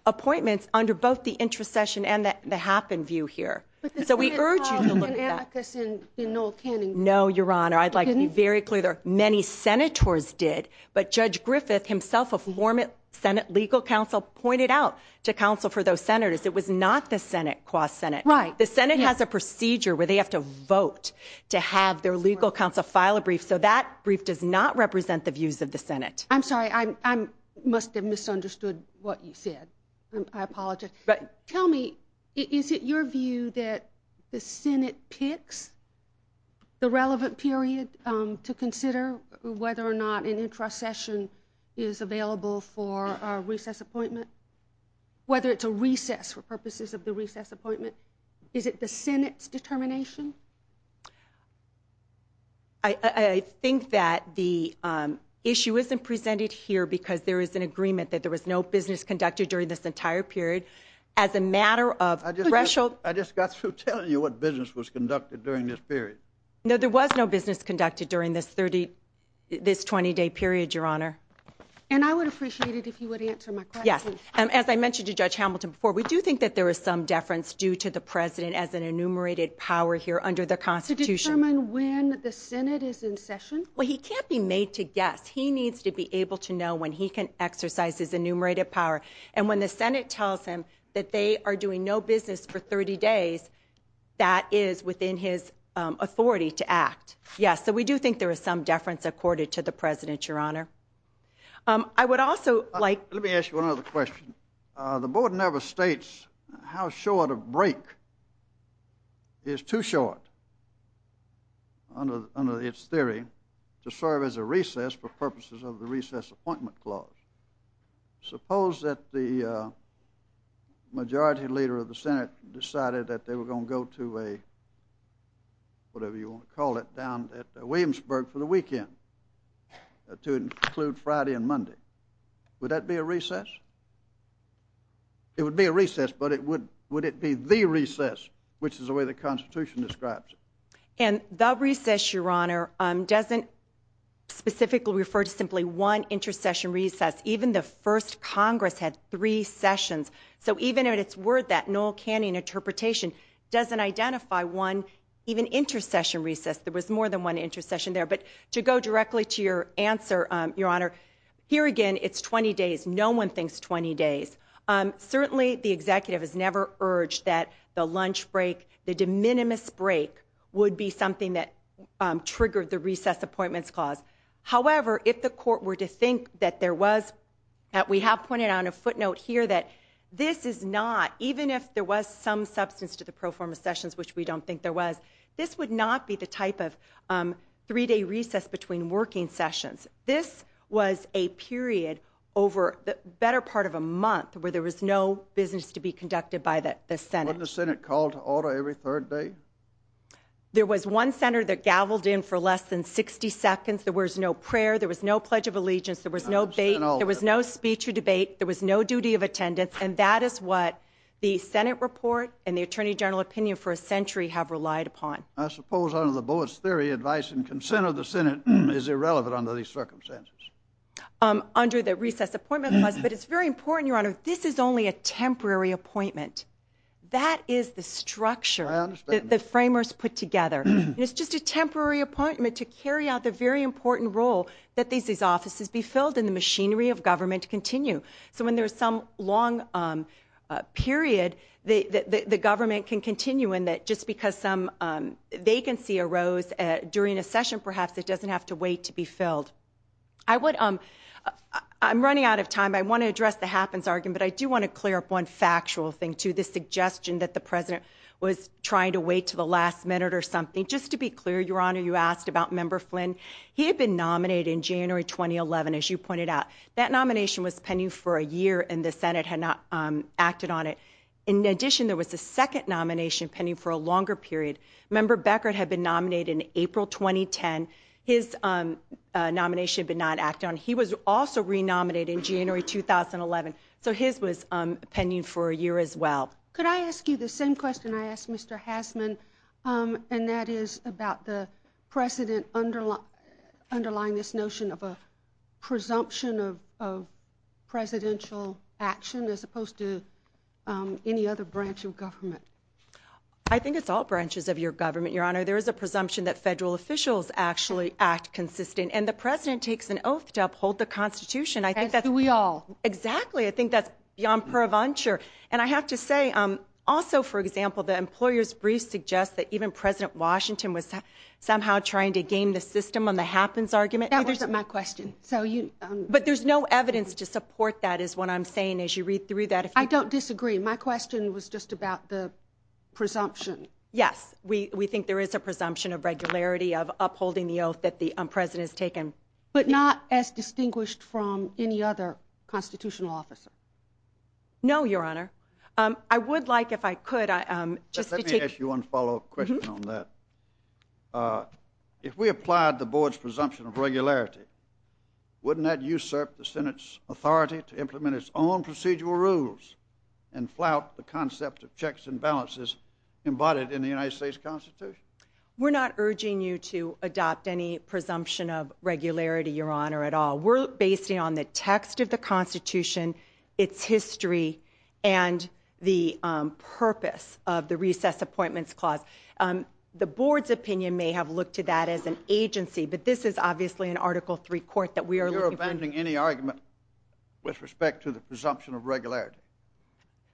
appointments under both the intra-session and the happen view here. So we urge you to look at that. But this is not an amicus in Noel Canning. No, Your Honor. I'd like to be very clear. Many Senators did, but Judge Griffith, himself a former Senate legal counsel, pointed out to counsel for those Senators it was not the Senate quod Senate. Right. The Senate has a procedure where they have to vote to have their legal counsel file a brief, so that brief does not represent the views of the Senate. I'm sorry. I must have misunderstood what you said. I apologize. Tell me, is it your view that the Senate picks the relevant period to consider whether or not an intra-session is available for a recess appointment, whether it's a recess for purposes of the recess appointment? Is it the Senate's determination? I think that the issue isn't presented here because there is an agreement that there was no business conducted during this entire period as a matter of threshold. I just got through telling you what business was conducted during this period. No, there was no business conducted during this 20-day period, Your Honor. And I would appreciate it if you would answer my question. Yes. As I mentioned to Judge Hamilton before, we do think that there is some deference due to the President as an enumerated power here under the Constitution. To determine when the Senate is in session? Well, he can't be made to guess. He needs to be able to know when he can exercise his enumerated power. And when the Senate tells him that they are doing no business for 30 days, that is within his authority to act. Yes. So we do think there is some deference accorded to the President, Your Honor. I would also like – Let me ask you another question. The Board never states how short a break is too short under its theory to serve as a recess for purposes of the Recess Appointment Clause. Suppose that the majority leader of the Senate decided that they were going to go to a – whatever you want to call it – down at Williamsburg for the weekend to include Friday and Monday. Would that be a recess? It would be a recess, but would it be the recess, which is the way the Constitution describes it? And the recess, Your Honor, doesn't specifically refer to simply one intercession recess. Even the first Congress had three sessions. So even in its word, that Noel Canning interpretation, doesn't identify one even intercession recess. There was more than one intercession there. But to go directly to your answer, Your Honor, here again it's 20 days. No one thinks 20 days. Certainly the Executive has never urged that the lunch break, the de minimis break, would be something that triggered the Recess Appointment Clause. However, if the Court were to think that there was – that we have pointed out on a footnote here that this is not – even if there was some substance to the pro forma sessions, which we don't think there was, this would not be the type of three-day recess between working sessions. This was a period over the better part of a month where there was no business to be conducted by the Senate. Wasn't the Senate called to order every third day? There was one Senate that gaveled in for less than 60 seconds. There was no prayer. There was no Pledge of Allegiance. There was no debate. There was no speech or debate. There was no duty of attendance. And that is what the Senate report and the Attorney General opinion for a century have relied upon. I suppose under the Boas theory, advice and consent of the Senate is irrelevant under these circumstances. Under the Recess Appointment Clause, but it's very important, Your Honor, this is only a temporary appointment. That is the structure that the framers put together. It's just a temporary appointment to carry out the very important role that these offices be filled and the machinery of government continue. So when there's some long period, the government can continue in that just because some vacancy arose during a session, perhaps it doesn't have to wait to be filled. I'm running out of time. I want to address the happens argument, but I do want to clear up one factual thing, too, the suggestion that the President was trying to wait to the last minute or something. Just to be clear, Your Honor, you asked about Member Flynn. He had been nominated in January 2011, as you pointed out. That nomination was pending for a year, and the Senate had not acted on it. In addition, there was a second nomination pending for a longer period. Member Beckert had been nominated in April 2010. His nomination did not act on it. He was also re-nominated in January 2011, so his was pending for a year as well. Could I ask you the same question I asked Mr. Haslund, and that is about the President underlying this notion of a presumption of presidential action as opposed to any other branch of government? I think it's all branches of your government, Your Honor. There is a presumption that federal officials actually act consistently, and the President takes an oath to uphold the Constitution. And do we all. Exactly. I think that's yon perventure. And I have to say, also, for example, the employer's brief suggests that even President Washington was somehow trying to game the system on the happens argument. That wasn't my question. But there's no evidence to support that is what I'm saying as you read through that. I don't disagree. My question was just about the presumption. Yes, we think there is a presumption of regularity of upholding the oath that the President has taken. But not as distinguished from any other constitutional officer. No, Your Honor. I would like, if I could, just to take... Let me ask you one follow-up question on that. If we applied the Board's presumption of regularity, wouldn't that usurp the Senate's authority to implement its own procedural rules and flout the concept of checks and balances embodied in the United States Constitution? We're not urging you to adopt any presumption of regularity, Your Honor, at all. We're basing it on the text of the Constitution, its history, and the purpose of the Recess Appointments Clause. The Board's opinion may have looked to that as an agency, but this is obviously an Article III court that we are looking to... You're abandoning any argument with respect to the presumption of regularity?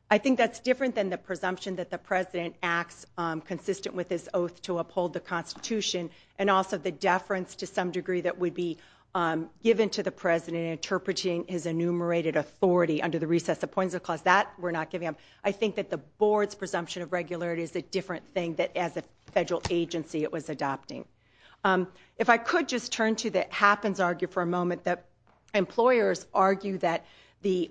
I think that's different than the presumption that the President acts consistent with his oath to uphold the Constitution and also the deference to some degree that would be given to the President in interpreting his enumerated authority under the Recess Appointments Clause. That we're not giving him. I think that the Board's presumption of regularity is a different thing than as a federal agency it was adopting. If I could just turn to the happens argument for a moment, that employers argue that the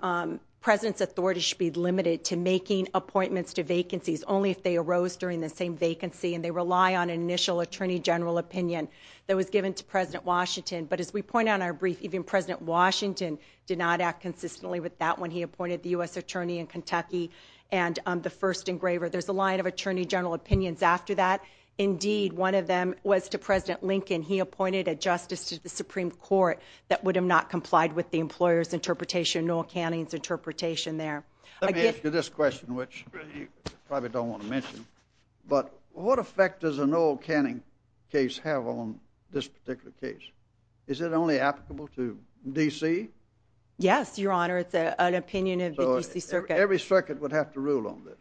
President's authority should be limited to making appointments to vacancies only if they arose during the same vacancy and they rely on an initial Attorney General opinion that was given to President Washington. But as we point out in our brief, even President Washington did not act consistently with that when he appointed the U.S. Attorney in Kentucky and the first engraver. There's a line of Attorney General opinions after that. Indeed, one of them was to President Lincoln. He appointed a justice to the Supreme Court that would have not complied with the employer's interpretation, Noel Canning's interpretation there. Let me ask you this question, which you probably don't want to mention, but what effect does a Noel Canning case have on this particular case? Is it only applicable to D.C.? Yes, Your Honor, it's an opinion of the D.C. Circuit. So every circuit would have to rule on this?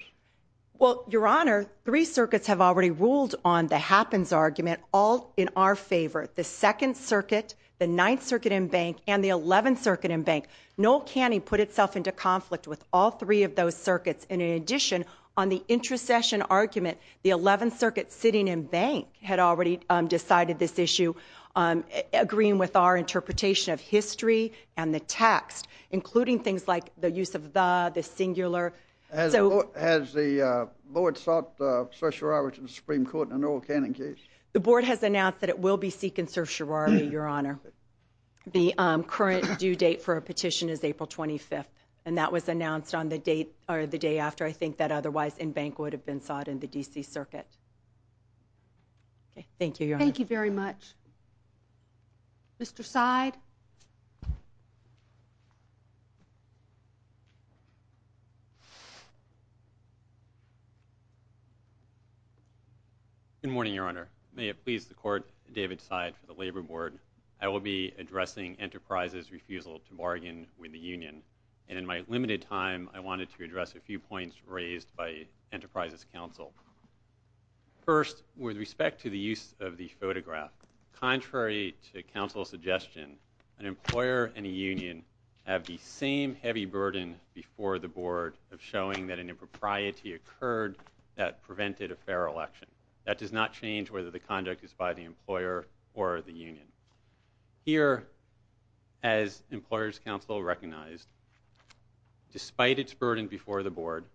Well, Your Honor, three circuits have already ruled on the happens argument, all in our favor. The 2nd Circuit, the 9th Circuit and Bank, and the 11th Circuit and Bank. Noel Canning put itself into conflict with all three of those circuits. And in addition, on the intercession argument, the 11th Circuit, sitting in Bank, had already decided this issue, agreeing with our interpretation of history and the text, including things like the use of the, the singular. Has the Board sought certiorari to the Supreme Court in a Noel Canning case? The Board has announced that it will be seeking certiorari, Your Honor. The current due date for a petition is April 25th, and that was announced on the date, or the day after, I think, that otherwise in Bank would have been sought in the D.C. Circuit. Thank you, Your Honor. Thank you very much. Mr. Seid. Good morning, Your Honor. May it please the Court, David Seid for the Labor Board. I will be addressing Enterprises' refusal to bargain with the Union. And in my limited time, I wanted to address a few points raised by Enterprises' counsel. First, with respect to the use of the photograph, contrary to counsel's suggestion, an employer and a union have the same heavy burden before the Board of showing that an impropriety occurred that prevented a fair election. That does not change whether the conduct is by the employer or the union. Here, as employer's counsel recognized, despite its burden before the Board,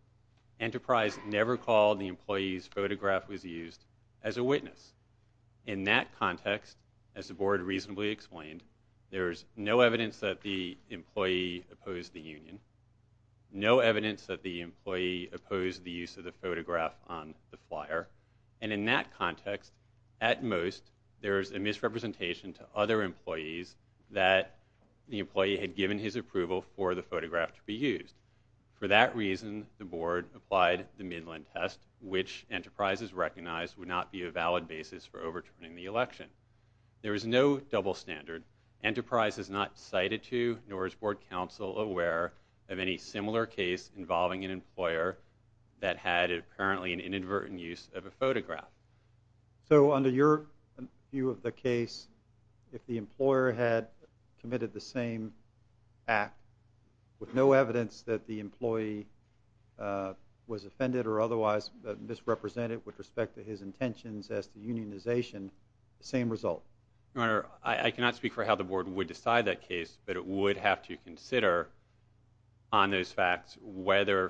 Enterprises never called the employee's photograph was used as a witness. In that context, as the Board reasonably explained, there is no evidence that the employee opposed the union, no evidence that the employee opposed the use of the photograph on the flyer. And in that context, at most, there is a misrepresentation to other employees that the employee had given his approval for the photograph to be used. For that reason, the Board applied the Midland test, which Enterprises recognized would not be a valid basis for overturning the election. There is no double standard. Enterprise has not cited to, nor is Board counsel aware of any similar case involving an employer that had apparently an inadvertent use of a photograph. So under your view of the case, if the employer had committed the same act with no evidence that the employee was offended or otherwise misrepresented with respect to his intentions as to unionization, same result? Your Honor, I cannot speak for how the Board would decide that case, but it would have to consider on those facts whether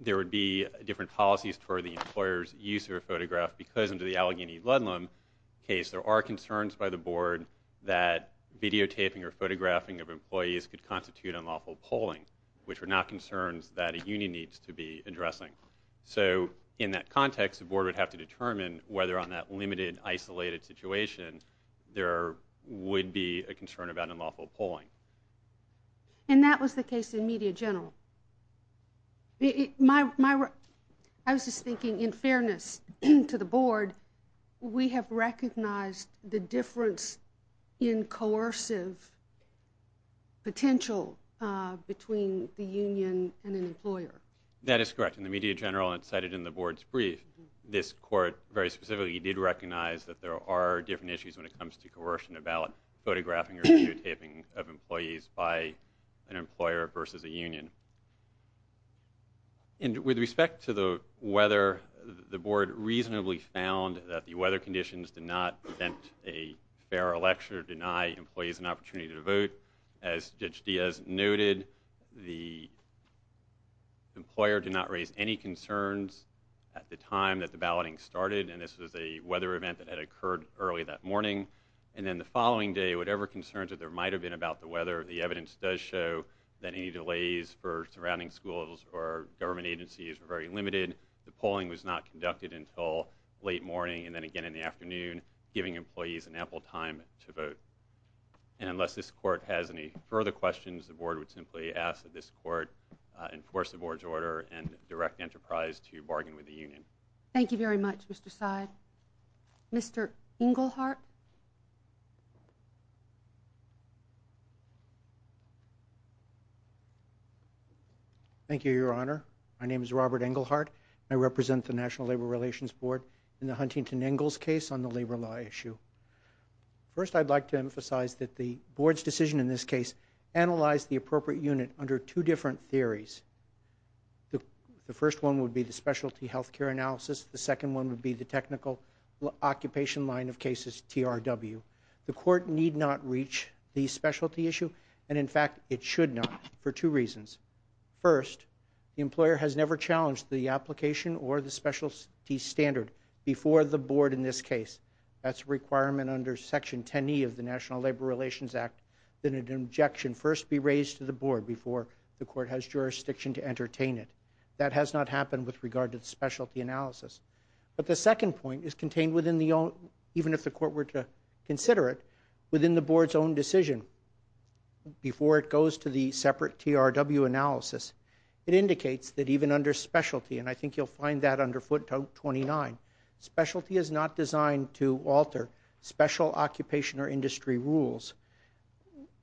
there would be different policies for the employer's use of a photograph because under the Allegheny Ludlum case, there are concerns by the Board that videotaping or photographing of employees could constitute unlawful polling, which are not concerns that a union needs to be addressing. So in that context, the Board would have to determine whether on that limited, isolated situation, there would be a concern about unlawful polling. And that was the case in Media General. I was just thinking, in fairness to the Board, we have recognized the difference in coercive potential between the union and an employer. That is correct. In the Media General and cited in the Board's brief, this Court very specifically did recognize that there are different issues when it comes to coercion about photographing or videotaping of employees by an employer versus a union. And with respect to the weather, the Board reasonably found that the weather conditions did not prevent a fair election or deny employees an opportunity to vote. As Judge Diaz noted, the employer did not raise any concerns at the time that the balloting started, and this was a weather event that had occurred early that morning. And then the following day, whatever concerns that there might have been about the weather, the evidence does show that any delays for surrounding schools or government agencies were very limited. The polling was not conducted until late morning and then again in the afternoon, giving employees an ample time to vote. And unless this Court has any further questions, the Board would simply ask that this Court enforce the Board's order and direct Enterprise to bargain with the union. Thank you very much, Mr. Seid. Mr. Englehart? Thank you, Your Honor. My name is Robert Englehart. I represent the National Labor Relations Board in the Huntington-Engels case on the labor law issue. First, I'd like to emphasize that the Board's decision in this case analyzed the appropriate unit under two different theories. The first one would be the specialty health care analysis. The second one would be the technical occupation line of cases, TRW. The Court need not reach the specialty issue, and in fact, it should not, for two reasons. First, the employer has never challenged the application or the specialty standard before the Board in this case. That's a requirement under Section 10E of the National Labor Relations Act that an objection first be raised to the Board before the Court has jurisdiction to entertain it. That has not happened with regard to the specialty analysis. But the second point is contained within the own, even if the Court were to consider it, within the Board's own decision. Before it goes to the separate TRW analysis, it indicates that even under specialty, and I think you'll find that under footnote 29, specialty is not designed to alter special occupation or industry rules.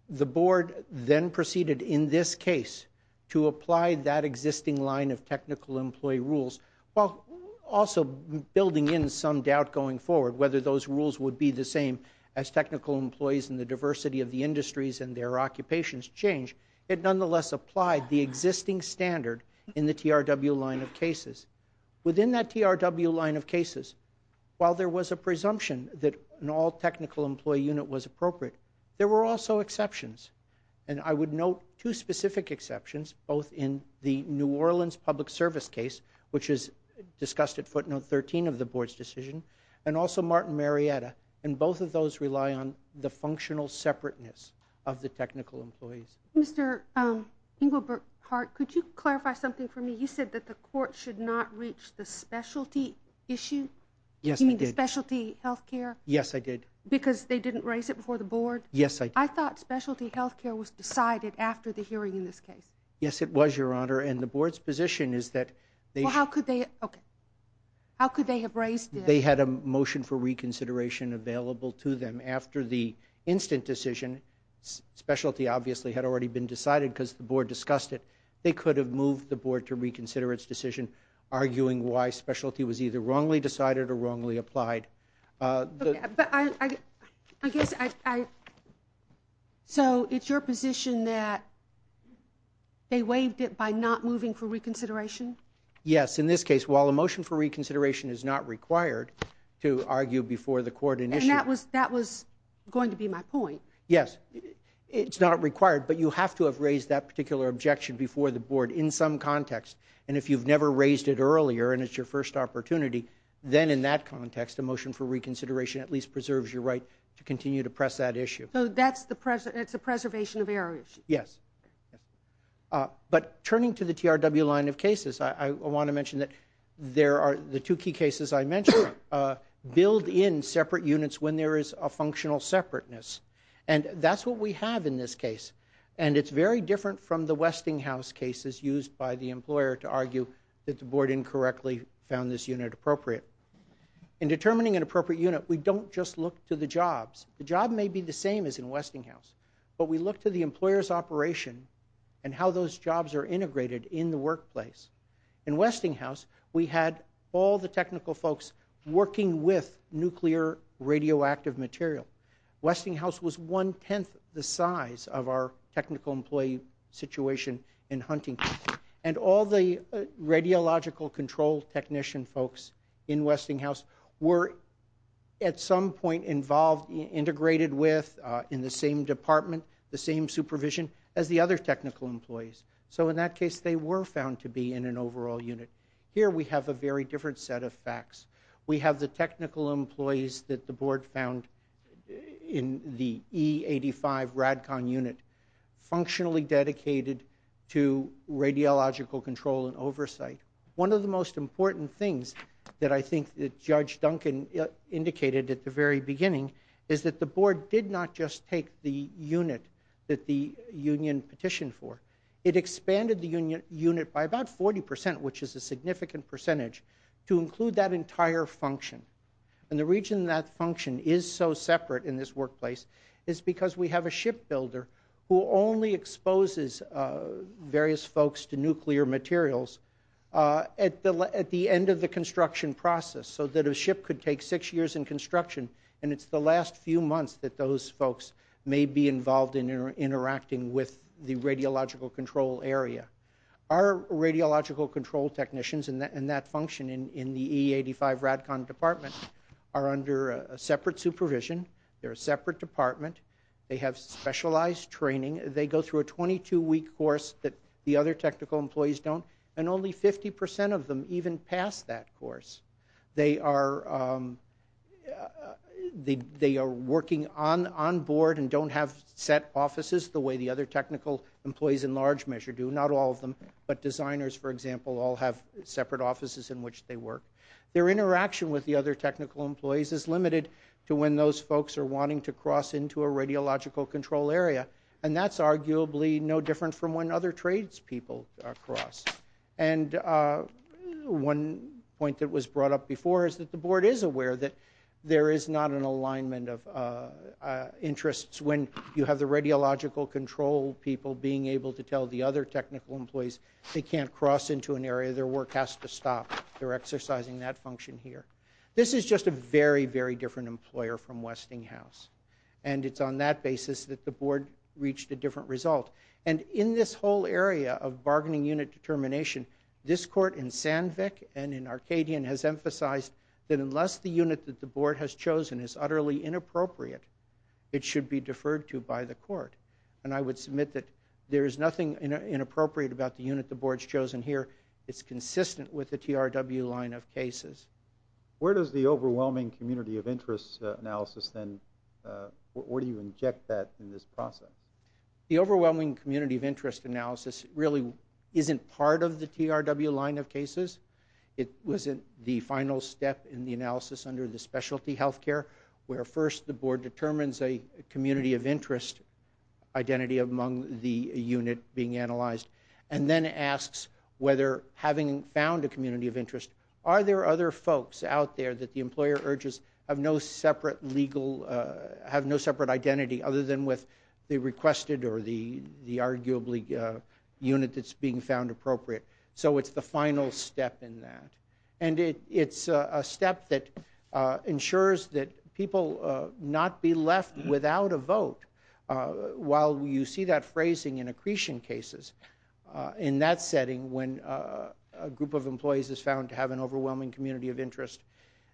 The Board then proceeded in this case to apply that existing line of technical employee rules, while also building in some doubt going forward whether those rules would be the same as technical employees and the diversity of the industries and their occupations change. Within that TRW line of cases, while there was a presumption that an all-technical employee unit was appropriate, there were also exceptions. And I would note two specific exceptions, both in the New Orleans public service case, which is discussed at footnote 13 of the Board's decision, and also Martin Marietta. And both of those rely on the functional separateness of the technical employees. Mr. Engelbart-Hart, could you clarify something for me? You said that the court should not reach the specialty issue? Yes, I did. You mean the specialty health care? Yes, I did. Because they didn't raise it before the Board? Yes, I did. I thought specialty health care was decided after the hearing in this case. Yes, it was, Your Honor. And the Board's position is that they... Well, how could they... Okay. How could they have raised it? They had a motion for reconsideration available to them. After the instant decision, specialty obviously had already been decided because the Board discussed it. They could have moved the Board to reconsider its decision, arguing why specialty was either wrongly decided or wrongly applied. So it's your position that they waived it by not moving for reconsideration? Yes. In this case, while a motion for reconsideration is not required to argue before the court initiated... And that was going to be my point. Yes. It's not required, but you have to have raised that particular objection before the Board in some context. And if you've never raised it earlier and it's your first opportunity, then in that context, a motion for reconsideration at least preserves your right to continue to press that issue. So it's a preservation of areas? Yes. But turning to the TRW line of cases, I want to mention that there are... The two key cases I mentioned build in separate units when there is a functional separateness. And that's what we have in this case. And it's very different from the Westinghouse cases used by the employer to argue that the Board incorrectly found this unit appropriate. In determining an appropriate unit, we don't just look to the jobs. The job may be the same as in Westinghouse, but we look to the employer's operation and how those jobs are integrated in the workplace. In Westinghouse, we had all the technical folks working with nuclear radioactive material. Westinghouse was one-tenth the size of our technical employee situation in hunting. And all the radiological control technician folks in Westinghouse were at some point involved, integrated with in the same department, the same supervision as the other technical employees. So in that case, they were found to be in an overall unit. Here we have a very different set of facts. We have the technical employees that the Board found in the E85 RADCON unit functionally dedicated to radiological control and oversight. One of the most important things that I think Judge Duncan indicated at the very beginning is that the Board did not just take the unit that the union petitioned for. It expanded the unit by about 40%, which is a significant percentage, to include that entire function. And the reason that function is so separate in this workplace is because we have a shipbuilder who only exposes various folks to nuclear materials at the end of the construction process so that a ship could take six years in construction, and it's the last few months that those folks may be involved in interacting with the radiological control area. Our radiological control technicians and that function in the E85 RADCON department are under separate supervision. They're a separate department. They have specialized training. They go through a 22-week course that the other technical employees don't, and only 50% of them even pass that course. They are working on board and don't have set offices the way the other technical employees in large measure do. Not all of them, but designers, for example, all have separate offices in which they work. Their interaction with the other technical employees is limited to when those folks are wanting to cross into a radiological control area, and that's arguably no different from when other tradespeople cross. And one point that was brought up before is that the board is aware that there is not an alignment of interests when you have the radiological control people being able to tell the other technical employees they can't cross into an area, their work has to stop. They're exercising that function here. This is just a very, very different employer from Westinghouse, and it's on that basis that the board reached a different result. And in this whole area of bargaining unit determination, this court in Sandvik and in Arcadian has emphasized that unless the unit that the board has chosen is utterly inappropriate, it should be deferred to by the court. And I would submit that there is nothing inappropriate about the unit the board's chosen here. It's consistent with the TRW line of cases. Where does the overwhelming community of interest analysis then, where do you inject that in this process? The overwhelming community of interest analysis really isn't part of the TRW line of cases. It was the final step in the analysis under the specialty health care where first the board determines a community of interest identity among the unit being analyzed, and then asks whether having found a community of interest, are there other folks out there that the employer urges have no separate legal, have no separate identity other than with the requested or the arguably unit that's being found appropriate. So it's the final step in that. While you see that phrasing in accretion cases, in that setting when a group of employees is found to have an overwhelming community of interest,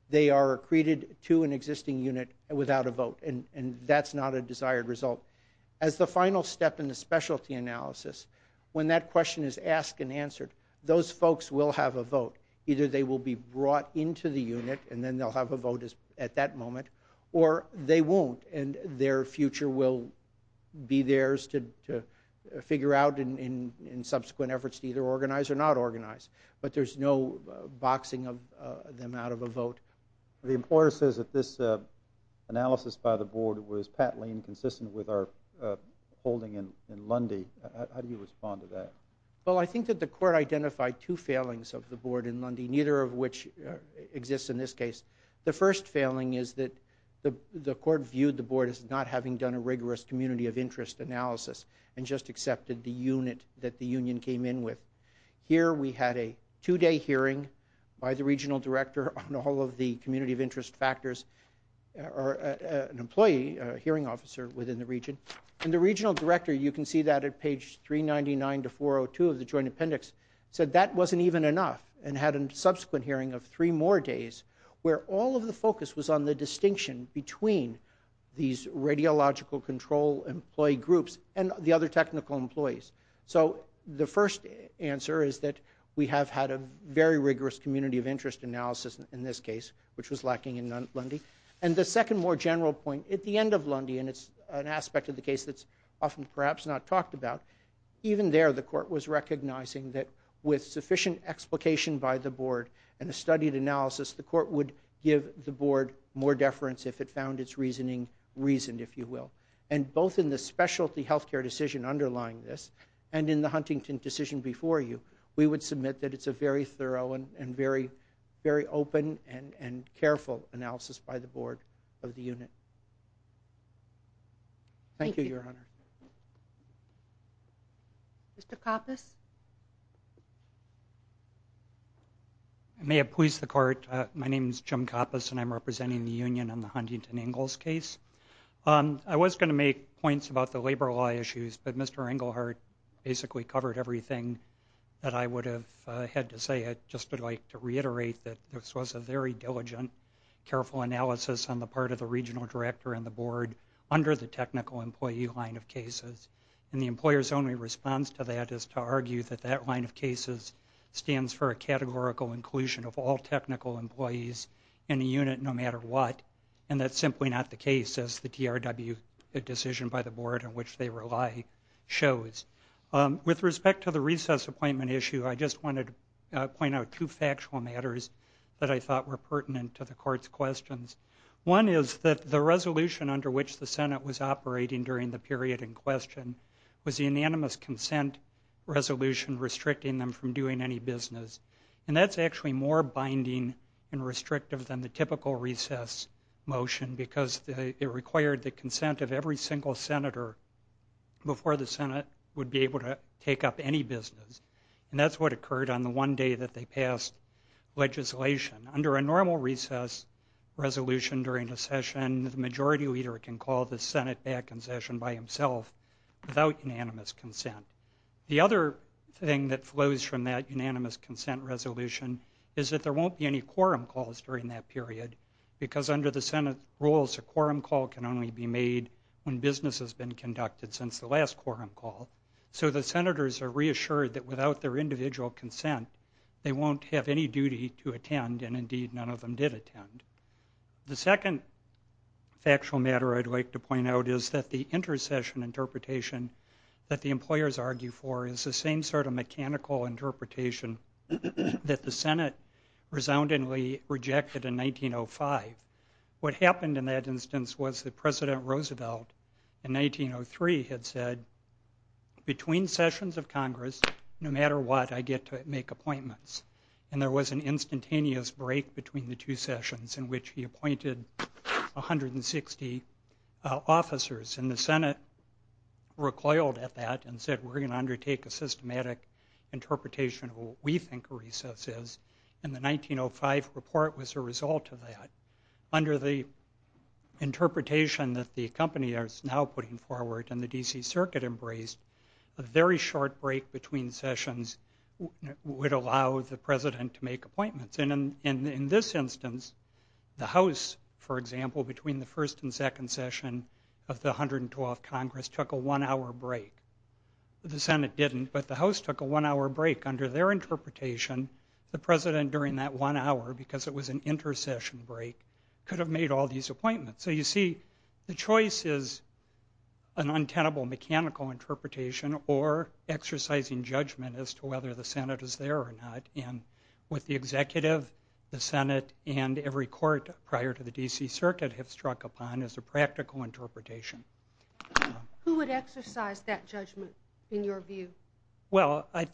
they are accreted to an existing unit without a vote, and that's not a desired result. As the final step in the specialty analysis, when that question is asked and answered, those folks will have a vote. Either they will be brought into the unit and then they'll have a vote at that moment, or they won't and their future will be theirs to figure out in subsequent efforts to either organize or not organize. But there's no boxing them out of a vote. The employer says that this analysis by the board was patently inconsistent with our holding in Lundy. How do you respond to that? Well, I think that the court identified two failings of the board in Lundy, neither of which exists in this case. The first failing is that the court viewed the board as not having done a rigorous community of interest analysis and just accepted the unit that the union came in with. Here we had a two-day hearing by the regional director on all of the community of interest factors, an employee, a hearing officer within the region. And the regional director, you can see that at page 399 to 402 of the joint appendix, said that wasn't even enough and had a subsequent hearing of three more days where all of the focus was on the distinction between these radiological control employee groups and the other technical employees. So the first answer is that we have had a very rigorous community of interest analysis in this case, which was lacking in Lundy. And the second more general point, at the end of Lundy, and it's an aspect of the case that's often perhaps not talked about, even there the court was recognizing that with sufficient explication by the board and a studied analysis, the court would give the board more deference if it found its reasoning reasoned, if you will. And both in the specialty health care decision underlying this and in the Huntington decision before you, we would submit that it's a very thorough and very open and careful analysis by the board of the unit. Thank you, Your Honor. Mr. Koppus. May it please the court, my name is Jim Koppus and I'm representing the union on the Huntington Ingalls case. I was going to make points about the labor law issues, but Mr. Engelhardt basically covered everything that I would have had to say. I just would like to reiterate that this was a very diligent, careful analysis on the part of the regional director and the board under the technical employee line of cases. And the employer's only response to that is to argue that that line of cases stands for a categorical inclusion of all technical employees in the unit no matter what, and that's simply not the case as the DRW, the decision by the board on which they rely, shows. With respect to the recess appointment issue, I just wanted to point out two factual matters that I thought were pertinent to the court's questions. One is that the resolution under which the Senate was operating during the period in question was the unanimous consent resolution restricting them from doing any business. And that's actually more binding and restrictive than the typical recess motion because it required the consent of every single senator before the Senate would be able to take up any business. And that's what occurred on the one day that they passed legislation. Under a normal recess resolution during a session, the majority leader can call the Senate back in session by himself without unanimous consent. The other thing that flows from that unanimous consent resolution is that there won't be any quorum calls during that period because under the Senate rules, a quorum call can only be made when business has been conducted since the last quorum call. So the senators are reassured that without their individual consent, they won't have any duty to attend, and indeed none of them did attend. The second factual matter I'd like to point out is that the inter-session interpretation that the employers argue for is the same sort of mechanical interpretation that the Senate resoundingly rejected in 1905. What happened in that instance was that President Roosevelt in 1903 had said, between sessions of Congress, no matter what, I get to make appointments. And there was an instantaneous break between the two sessions in which he appointed 160 officers. And the Senate recoiled at that and said, we're going to undertake a systematic interpretation of what we think a recess is. And the 1905 report was a result of that. Under the interpretation that the company is now putting forward and the D.C. Circuit embraced, a very short break between sessions would allow the president to make appointments. And in this instance, the House, for example, between the first and second session of the 112th Congress took a one-hour break. The Senate didn't, but the House took a one-hour break. Under their interpretation, the president during that one hour, because it was an inter-session break, could have made all these appointments. So you see, the choice is an untenable mechanical interpretation or exercising judgment as to whether the Senate is there or not. And what the executive, the Senate, and every court prior to the D.C. Circuit have struck upon as a practical interpretation. Who would exercise that judgment, in your view? Well, I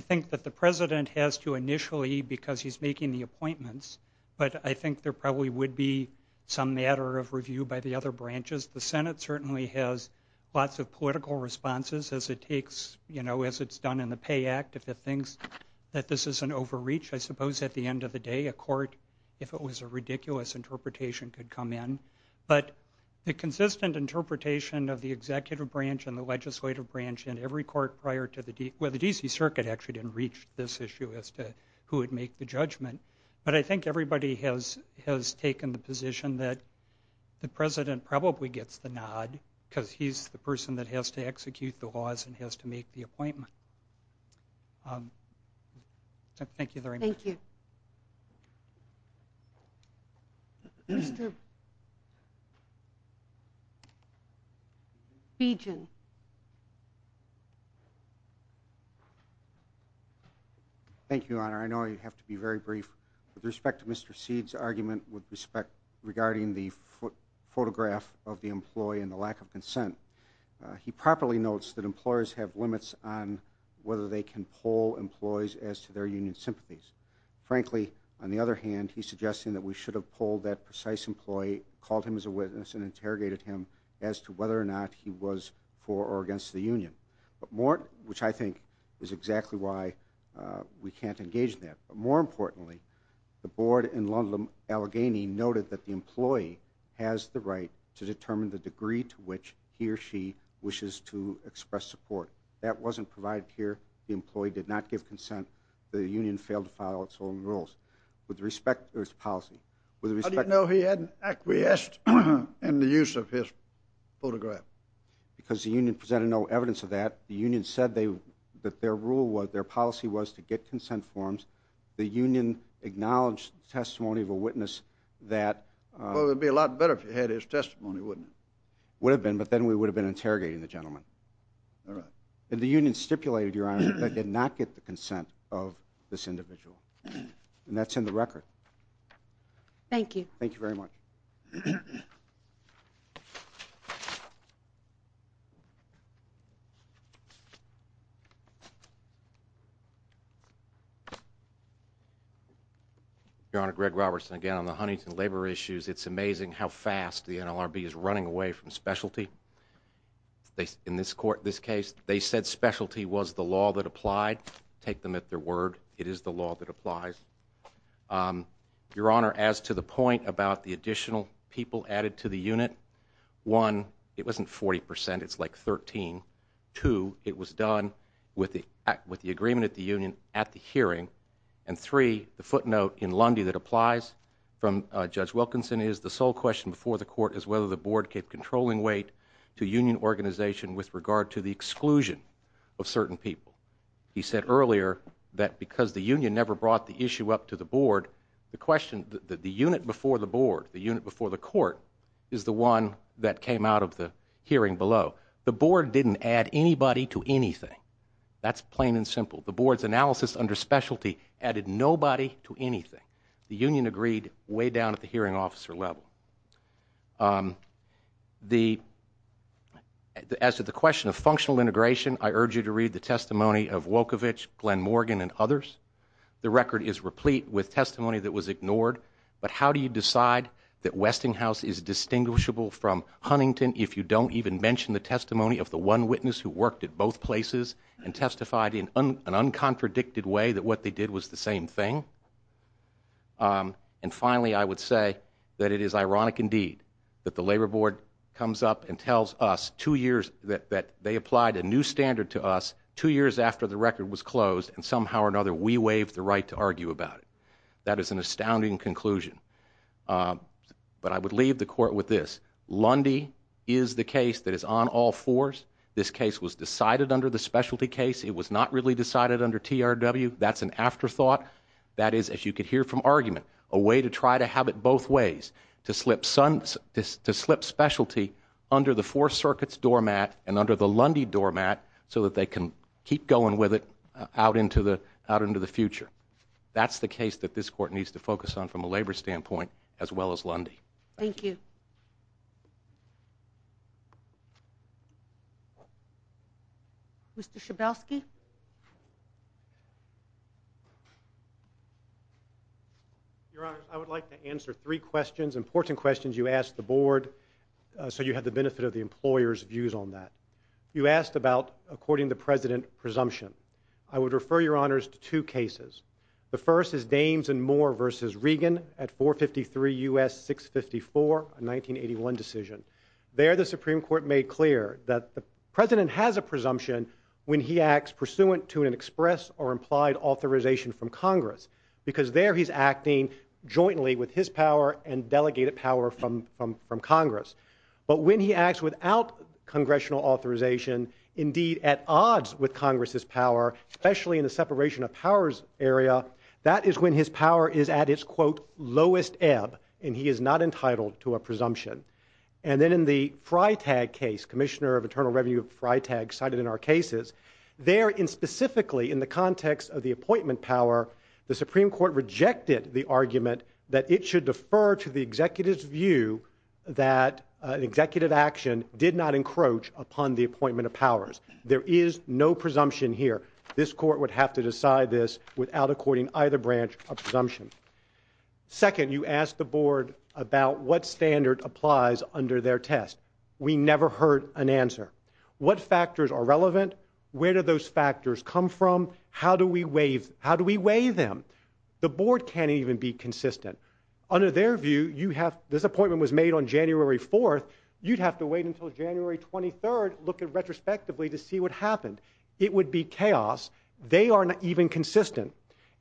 think that the president has to initially, because he's making the appointments, but I think there probably would be some matter of review by the other branches. The Senate certainly has lots of political responses as it takes, you know, as it's done in the Pay Act. If it thinks that this is an overreach, I suppose at the end of the day, a court, if it was a ridiculous interpretation, could come in. But the consistent interpretation of the executive branch and the legislative branch in every court prior to the D.C. Well, the D.C. Circuit actually didn't reach this issue as to who would make the judgment. But I think everybody has taken the position that the president probably gets the nod because he's the person that has to execute the laws and has to make the appointment. Thank you very much. Thank you. Regent. Thank you, Your Honor. I know I have to be very brief. With respect to Mr. Seed's argument with respect regarding the photograph of the employee and the lack of consent, he properly notes that employers have limits on whether they can poll employees as to their union sympathies. Frankly, on the other hand, he's suggesting that we should have polled that precise employee, called him as a witness, for or against the union, which I think is exactly why we can't engage in that. But more importantly, the board in London Allegheny noted that the employee has the right to determine the degree to which he or she wishes to express support. That wasn't provided here. The employee did not give consent. The union failed to follow its own rules with respect to its policy. How do you know he hadn't acquiesced in the use of his photograph? Because the union presented no evidence of that. The union said that their policy was to get consent forms. The union acknowledged the testimony of a witness that... Well, it would be a lot better if he had his testimony, wouldn't it? Would have been, but then we would have been interrogating the gentleman. All right. The union stipulated, Your Honor, that they did not get the consent of this individual. And that's in the record. Thank you. Thank you very much. Your Honor, Greg Robertson again on the Huntington labor issues. It's amazing how fast the NLRB is running away from specialty. In this case, they said specialty was the law that applied. Take them at their word. It is the law that applies. Your Honor, as to the point about the additional people added to the unit, one, it wasn't 40 percent. It's like 13. Two, it was done with the agreement at the union at the hearing. And three, the footnote in Lundy that applies from Judge Wilkinson is, the sole question before the court is whether the board gave controlling weight to union organization with regard to the exclusion of certain people. He said earlier that because the union never brought the issue up to the board, the question, the unit before the board, the unit before the court, is the one that came out of the hearing below. The board didn't add anybody to anything. That's plain and simple. The board's analysis under specialty added nobody to anything. The union agreed way down at the hearing officer level. As to the question of functional integration, I urge you to read the testimony of Wolkovich, Glenn Morgan, and others. The record is replete with testimony that was ignored. But how do you decide that Westinghouse is distinguishable from Huntington if you don't even mention the testimony of the one witness who worked at both places and testified in an uncontradicted way that what they did was the same thing? And finally, I would say that it is ironic indeed that the labor board comes up and tells us two years that they applied a new standard to us, two years after the record was closed, and somehow or another we waived the right to argue about it. That is an astounding conclusion. But I would leave the court with this. Lundy is the case that is on all fours. This case was decided under the specialty case. It was not really decided under TRW. That's an afterthought. That is, as you could hear from argument, a way to try to have it both ways, to slip specialty under the Fourth Circuit's doormat and under the Lundy doormat so that they can keep going with it out into the future. That's the case that this court needs to focus on from a labor standpoint as well as Lundy. Thank you. Mr. Schabelsky? Your Honor, I would like to answer three questions, important questions you asked the board so you have the benefit of the employer's views on that. You asked about, according to the President, presumption. I would refer, Your Honors, to two cases. The first is Dames and Moore v. Regan at 453 U.S. 654, 1984. There the Supreme Court made clear that the President has a presumption when he acts pursuant to an express or implied authorization from Congress because there he's acting jointly with his power and delegated power from Congress. But when he acts without congressional authorization, indeed at odds with Congress's power, especially in the separation of powers area, that is when his power is at its, quote, lowest ebb, and he is not entitled to a presumption. And then in the Freitag case, Commissioner of Internal Revenue Freitag cited in our cases, there specifically in the context of the appointment power, the Supreme Court rejected the argument that it should defer to the executive's view that an executive action did not encroach upon the appointment of powers. There is no presumption here. This court would have to decide this without according either branch a presumption. Second, you ask the board about what standard applies under their test. We never heard an answer. What factors are relevant? Where do those factors come from? How do we weigh them? The board can't even be consistent. Under their view, this appointment was made on January 4th. You'd have to wait until January 23rd, look retrospectively to see what happened. It would be chaos. They are not even consistent.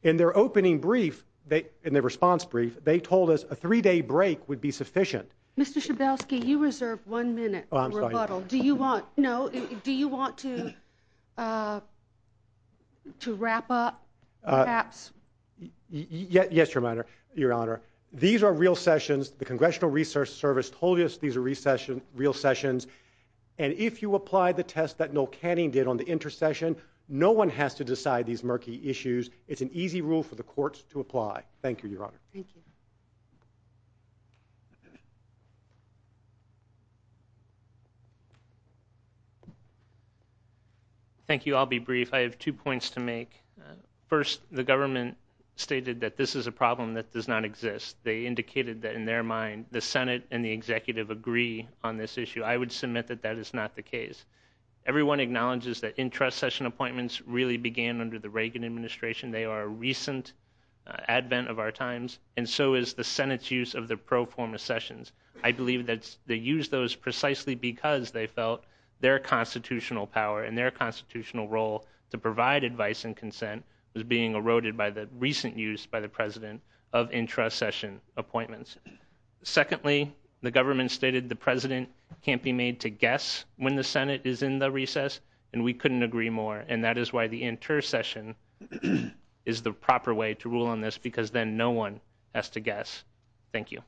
In their opening brief, in their response brief, they told us a three-day break would be sufficient. Mr. Schabelsky, you reserve one minute for rebuttal. Do you want to wrap up? Yes, Your Honor. These are real sessions. The Congressional Research Service told us these are real sessions. And if you apply the test that Noel Canning did on the intercession, no one has to decide these murky issues. It's an easy rule for the courts to apply. Thank you, Your Honor. Thank you. Thank you. I'll be brief. I have two points to make. First, the government stated that this is a problem that does not exist. They indicated that, in their mind, the Senate and the executive agree on this issue. I would submit that that is not the case. Everyone acknowledges that intercession appointments really began under the Reagan administration. They are a recent advent of our times, and so is the Senate's use of the pro forma sessions. I believe that they used those precisely because they felt their constitutional power and their constitutional role to provide advice and consent was being eroded by the recent use by the President of intercession appointments. Secondly, the government stated the President can't be made to guess when the Senate is in the recess, and we couldn't agree more. And that is why the intercession is the proper way to rule on this, because then no one has to guess. Thank you.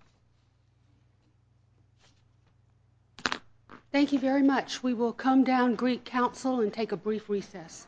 Thank you very much. We will come down Greek Council and take a brief recess.